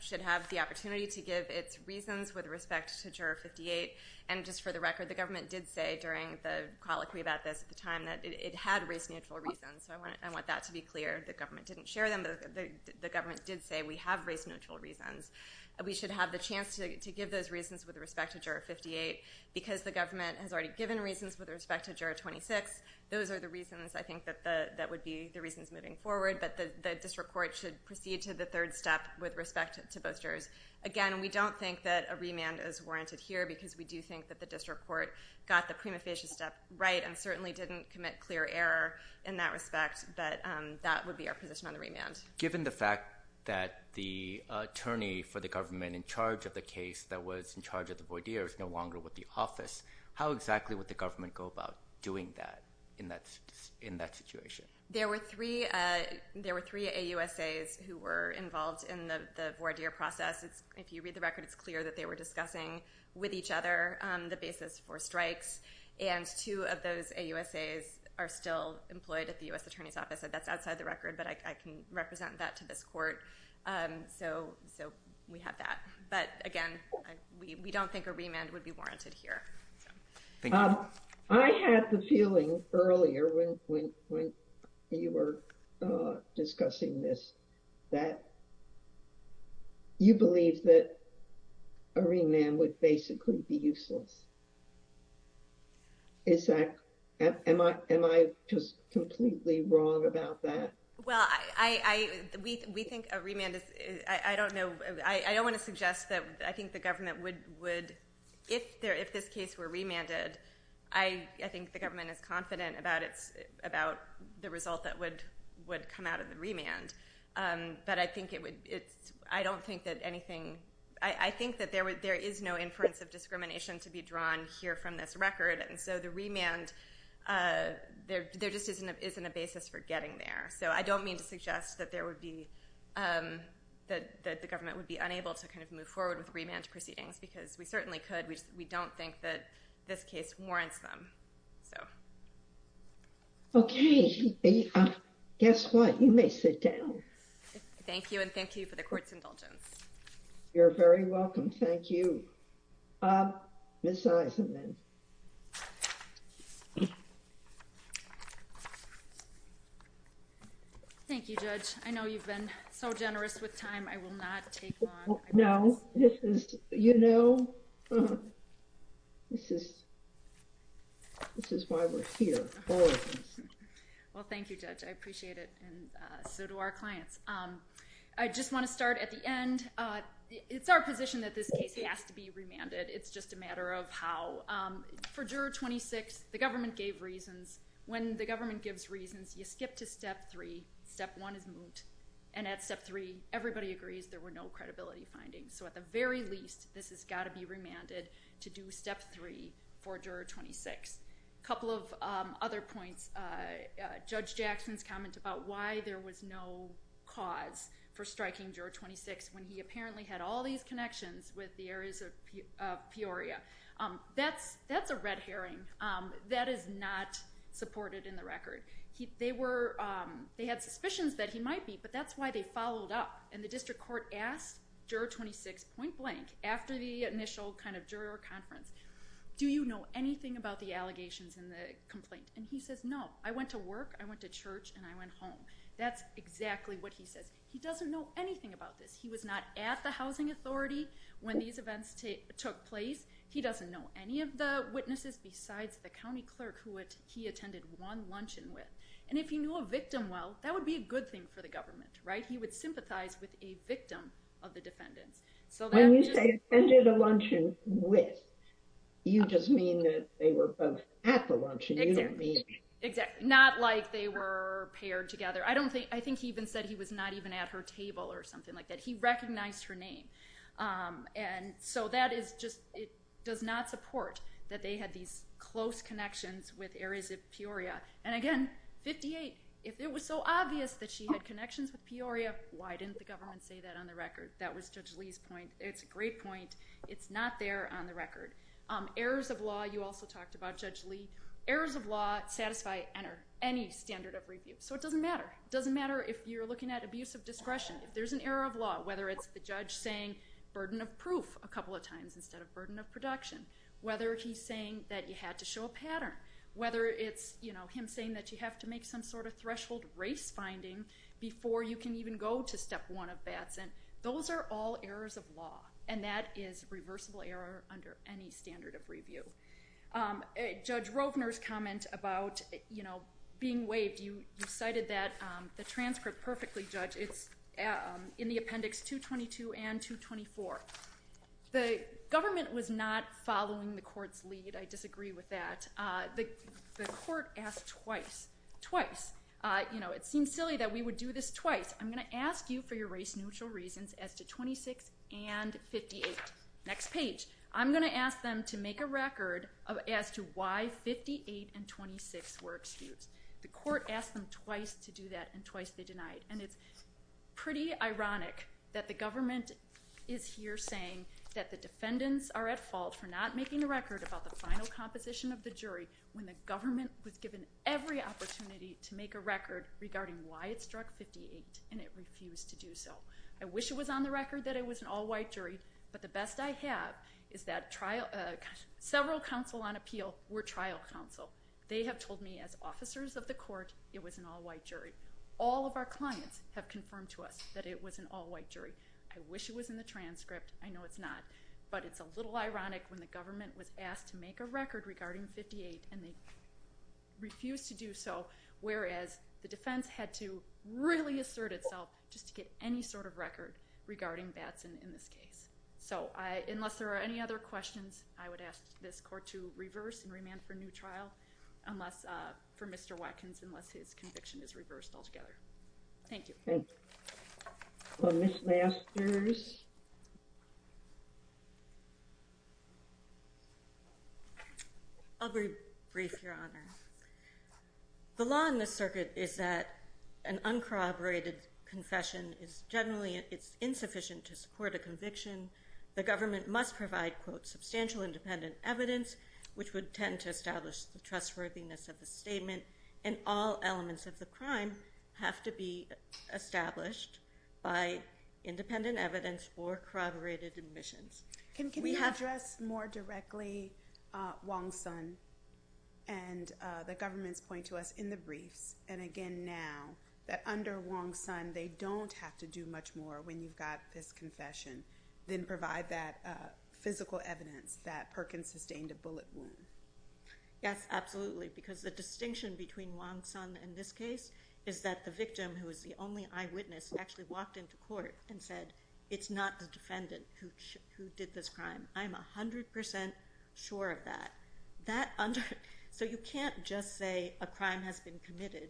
should have the opportunity to give its reasons with respect to Juror 58, and just for the record, the government did say during the colloquy about this at the time that it had race-neutral reasons, so I want that to be clear. The government didn't share them, but the government did say we have race-neutral reasons. We should have the chance to give those reasons with respect to Juror 58. Because the government has already given reasons with respect to Juror 26, those are the reasons, I think, that would be the reasons moving forward, that the district court should proceed to the third step with respect to both jurors. Again, we don't think that a remand is warranted here because we do think that the district court got the prima facie step right and certainly didn't commit clear error in that respect, but that would be our position on the remand. Given the fact that the attorney for the government in charge of the case that was in charge of the voir dire is no longer with the office, how exactly would the government go about doing that in that situation? There were three AUSAs who were involved in the voir dire process. If you read the record, it's clear that they were discussing with each other the basis for strikes, and two of those AUSAs are still employed at the U.S. Attorney's Office. That's outside the record, but I can represent that to this court. So we have that. But again, we don't think a remand would be warranted here. I had the feeling earlier when you were discussing this that you believe that a remand would basically be useless. Am I just completely wrong about that? Well, we think a remand is... I don't want to suggest that I think the government would... If this case were remanded, I think the government is confident about the result that would come out of the remand. But I think it would... I don't think that anything... I think that there is no inference of discrimination to be drawn here from this record, and so the remand, there just isn't a basis for getting there. So I don't mean to suggest that there would be... that the government would be unable to move forward with remand proceedings, because we certainly could. We don't think that this case warrants them. Okay. Guess what? You may sit down. Thank you, and thank you for the court's indulgence. You're very welcome. Thank you. Ms. Eisenman. Thank you, Judge. I know you've been so generous with time. I will not take long. No, this is, you know... This is... This is why we're here. Well, thank you, Judge. I appreciate it. And so do our clients. I just want to start at the end. It's our position that this case has to be remanded. It's just a matter of how. For Juror 26, the government gave reasons. When the government gives reasons, you skip to Step 3. Step 1 is moved. And at Step 3, everybody agrees there were no credibility findings. So at the very least, this has got to be remanded to do Step 3 for Juror 26. A couple of other points. Judge Jackson's comments about why there was no cause for striking Juror 26 when he apparently had all these connections with the areas of Peoria. That's a red herring. That is not supported in the record. They had suspicions that he might be, but that's why they followed up. And the district court asked Juror 26 point blank, after the initial kind of juror conference, do you know anything about the allegations in the complaint? And he said, no. I went to work, I went to church, and I went home. That's exactly what he said. He doesn't know anything about this. He was not at the housing authority when these events took place. He doesn't know any of the witnesses besides the county clerk who he attended one luncheon with. And if he knew a victim well, that would be a good thing for the government. He would sympathize with a victim of the defendant. When you say attended a luncheon with, you just mean that they were both at the luncheon. Exactly. Not like they were paired together. I think he even said he was not even at her table or something like that. He recognized her name. And so that is just, it does not support that they had these close connections with areas of Peoria. And again, 58, if it was so obvious that she had connections with Peoria, why didn't the government say that on the record? That was Judge Lee's point. It's a great point. It's not there on the record. Errors of law, you also talked about Judge Lee. Errors of law satisfy any standard of review. So it doesn't matter. It doesn't matter if you're looking at abuse of discretion. There's an error of law, whether it's the judge saying burden of proof a couple of times instead of burden of production. Whether he's saying that you had to show a pattern. Whether it's him saying that you have to make some sort of threshold race finding before you can even go to step one of Batson. And that is reversible error under any standard of review. Judge Roepner's comment about being waived. You cited that, the transcript perfectly, Judge. It's in the appendix 222 and 224. The government was not following the court's lead. I disagree with that. The court asked twice, twice. It seems silly that we would do this twice. I'm going to ask you for your race-neutral reasons as to 26 and 58. Next page. I'm going to ask them to make a record as to why 58 and 26 were excused. The court asked them twice to do that and twice they denied it. And it's pretty ironic that the government is here saying that the defendants are at fault for not making a record about the final composition of the jury when the government was given every opportunity to make a record regarding why it struck 58 and it refused to do so. I wish it was on the record that it was an all-white jury, but the best I have is that several counsel on appeal were trial counsel. They have told me as officers of the court it was an all-white jury. All of our clients have confirmed to us that it was an all-white jury. I wish it was in the transcript. I know it's not, but it's a little ironic when the government was asked to make a record regarding 58 and they refused to do so, whereas the defense had to really assert itself just to get any sort of record regarding Batson in this case. So unless there are any other questions, I would ask this court to reverse and remand for a new trial for Mr. Watkins unless his conviction is reversed altogether. Thank you. Ms. Masters? I'll be brief, Your Honor. The law in this circuit is that an uncorroborated confession is generally insufficient to support a conviction. The government must provide quote, substantial independent evidence which would tend to establish the trustworthiness of the statement and all elements of the crime have to be established by independent evidence or corroborated admissions. Can you address more directly Wong-Sun and the government's point to us in the brief and again now that under Wong-Sun they don't have to do much more when you've got this confession than provide that physical evidence that Perkins sustained a bullet wound? Yes, absolutely. Because the distinction between Wong-Sun in this case is that the victim who was the only eyewitness actually walked into court and said it's not the defendant who did this crime. I'm 100% sure of that. So you can't just say a crime has been committed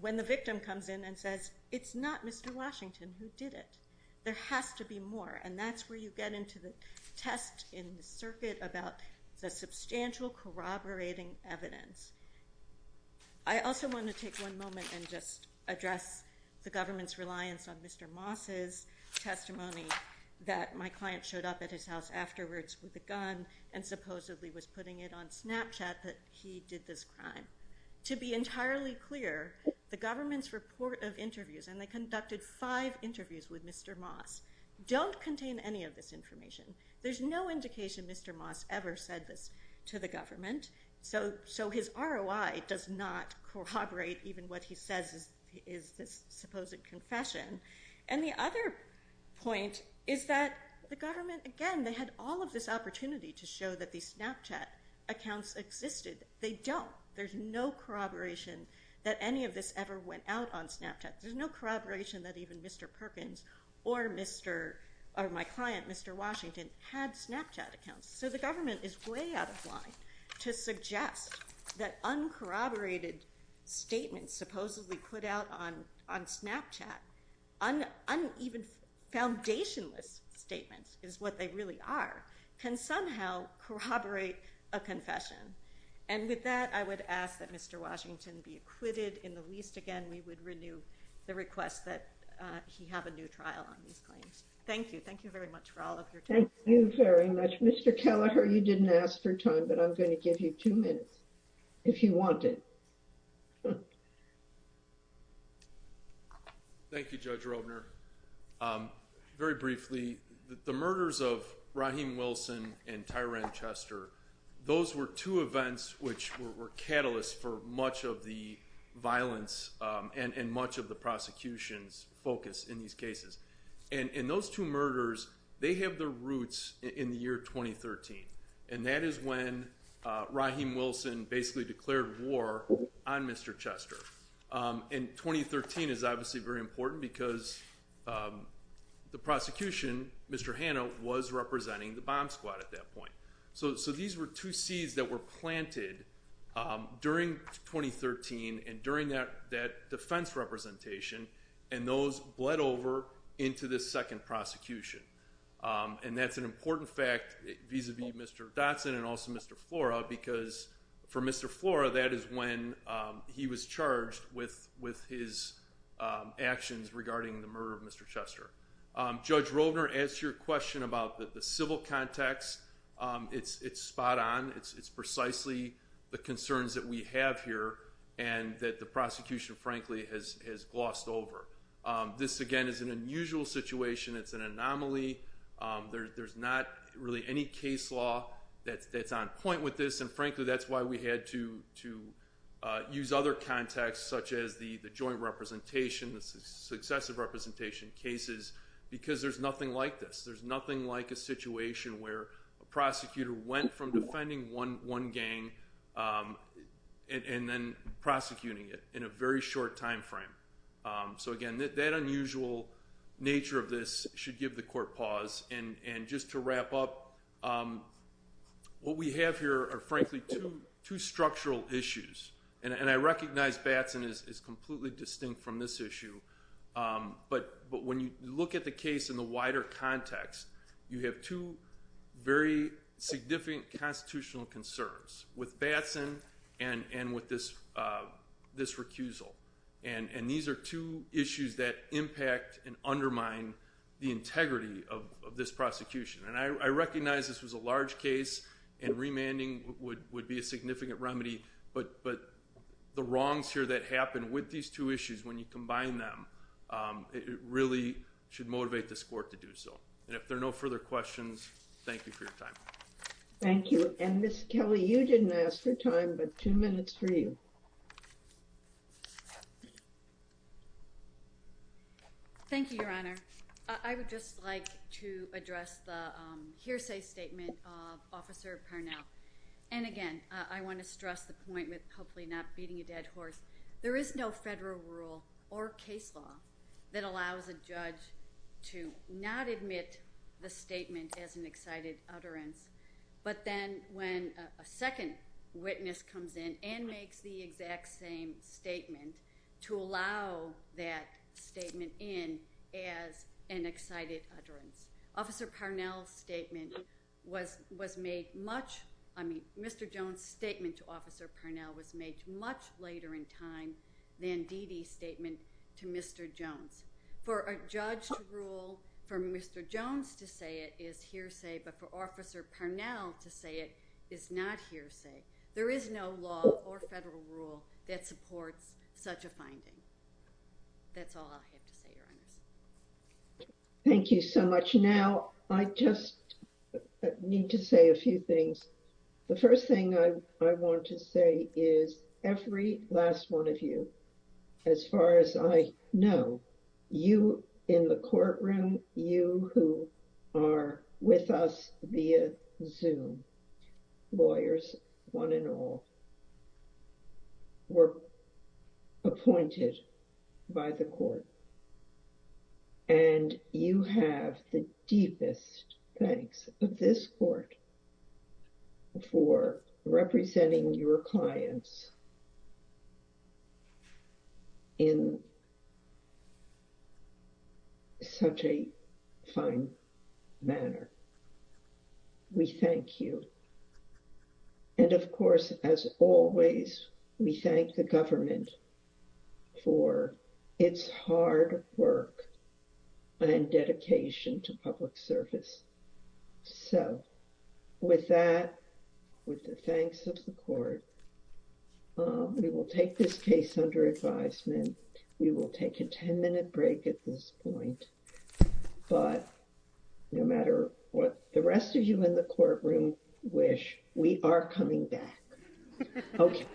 when the victim comes in and says it's not Mr. Washington who did it. There has to be more and that's where you get into the test in the circuit about the substantial corroborating evidence. I also want to take one moment and just address the government's reliance on Mr. Moss's testimony that my client showed up at his house afterwards with a gun and supposedly was putting it on Snapchat that he did this crime. To be entirely clear the government's report of interviews and they conducted five interviews with Mr. Moss don't contain any of this information. There's no indication Mr. Moss ever said this to the government so his ROI does not corroborate even what he says is this supposed confession. And the other point is that the government again they had all of this opportunity to show that these Snapchat accounts existed. They don't. There's no corroboration that any of this ever went out on Snapchat. There's no corroboration that even Mr. Perkins or my client Mr. Washington had Snapchat accounts. So the government is way out of line to suggest that uncorroborated statements supposedly put out on Snapchat even foundationless statements is what they really are can somehow corroborate a confession. And with that I would ask that Mr. Washington be acquitted in the least again we would renew the request that he have a new trial on these claims. Thank you. Thank you very much for all of your time. Thank you very much. Mr. Keller you didn't ask for time but I'm going to give you two minutes if you want it. Thank you Judge Robner. Very briefly the murders of Raheem Wilson and Tyran Chester those were two events which were catalysts for much of the violence and much of the prosecution's focus in these cases. And those two murders they have their roots in the year 2013. And that is when Raheem Wilson basically declared war on Mr. Chester. And 2013 is obviously very important because the prosecution Mr. Hanna was representing the bomb squad at that point. So these were two seeds that were planted during 2013 and during that defense representation and those bled over into the second prosecution. And that's an important fact vis-a-vis Mr. Dodson and also Mr. Flora because for Mr. Flora that is when he was charged with his actions regarding the murder of Mr. Chester. Judge Robner asked your question about the civil context. The civil context is spot on. It's precisely the concerns that we have here and that the prosecution frankly has glossed over. This again is an unusual situation. It's an anomaly. There's not really any case law that's on point with this and frankly that's why we had to use other contexts such as the joint representation successive representation cases because there's nothing like this. There's nothing like a situation where you're defending one gang and then prosecuting it in a very short time frame. So again that unusual nature of this should give the court pause and just to wrap up what we have here are frankly two structural issues and I recognize Batson is completely distinct from this issue but when you look at the case in the wider context you have two very significant constitutional concerns with Batson and with this recusal and these are two issues that impact and undermine the integrity of this prosecution and I recognize this was a large case and remanding would be a significant remedy but the wrongs here that happened with these two issues when you combine them it really should motivate this court to do so and if there are no further questions thank you for your time. Thank you and Ms. Kelly you didn't ask for time but two minutes for you. Thank you Your Honor. I would just like to address the hearsay statement of Officer Carnell and again I want to stress the point with hopefully not beating a dead horse. There is no federal rule or case law that allows a judge to submit the statement as an excited utterance but then when a second witness comes in and makes the exact same statement to allow that statement in as an excited utterance. Officer Carnell's statement was made much I mean Mr. Jones' statement to Officer Carnell was made much later in time than Dee Dee's statement to Mr. Jones. For a judge to rule for Mr. Jones to say it is hearsay but for Officer Carnell to say it is not hearsay. There is no law or federal rule that supports such a finding. That's all I have to say Your Honor. Thank you so much. Now I just need to say a few things. The first thing I want to say is every last one of you as far as I know you in the courtroom including you who are with us via Zoom lawyers one and all were appointed by the court and you have the deepest thanks of this court for representing your clients in a very fine manner. We thank you. And of course as always we thank the government for its hard work and dedication to public service. So with that with the thanks of the court we will take this case under advisement. We will take a 10 minute break at this point. But no matter what the rest of you in the courtroom wish we are coming back. Okay.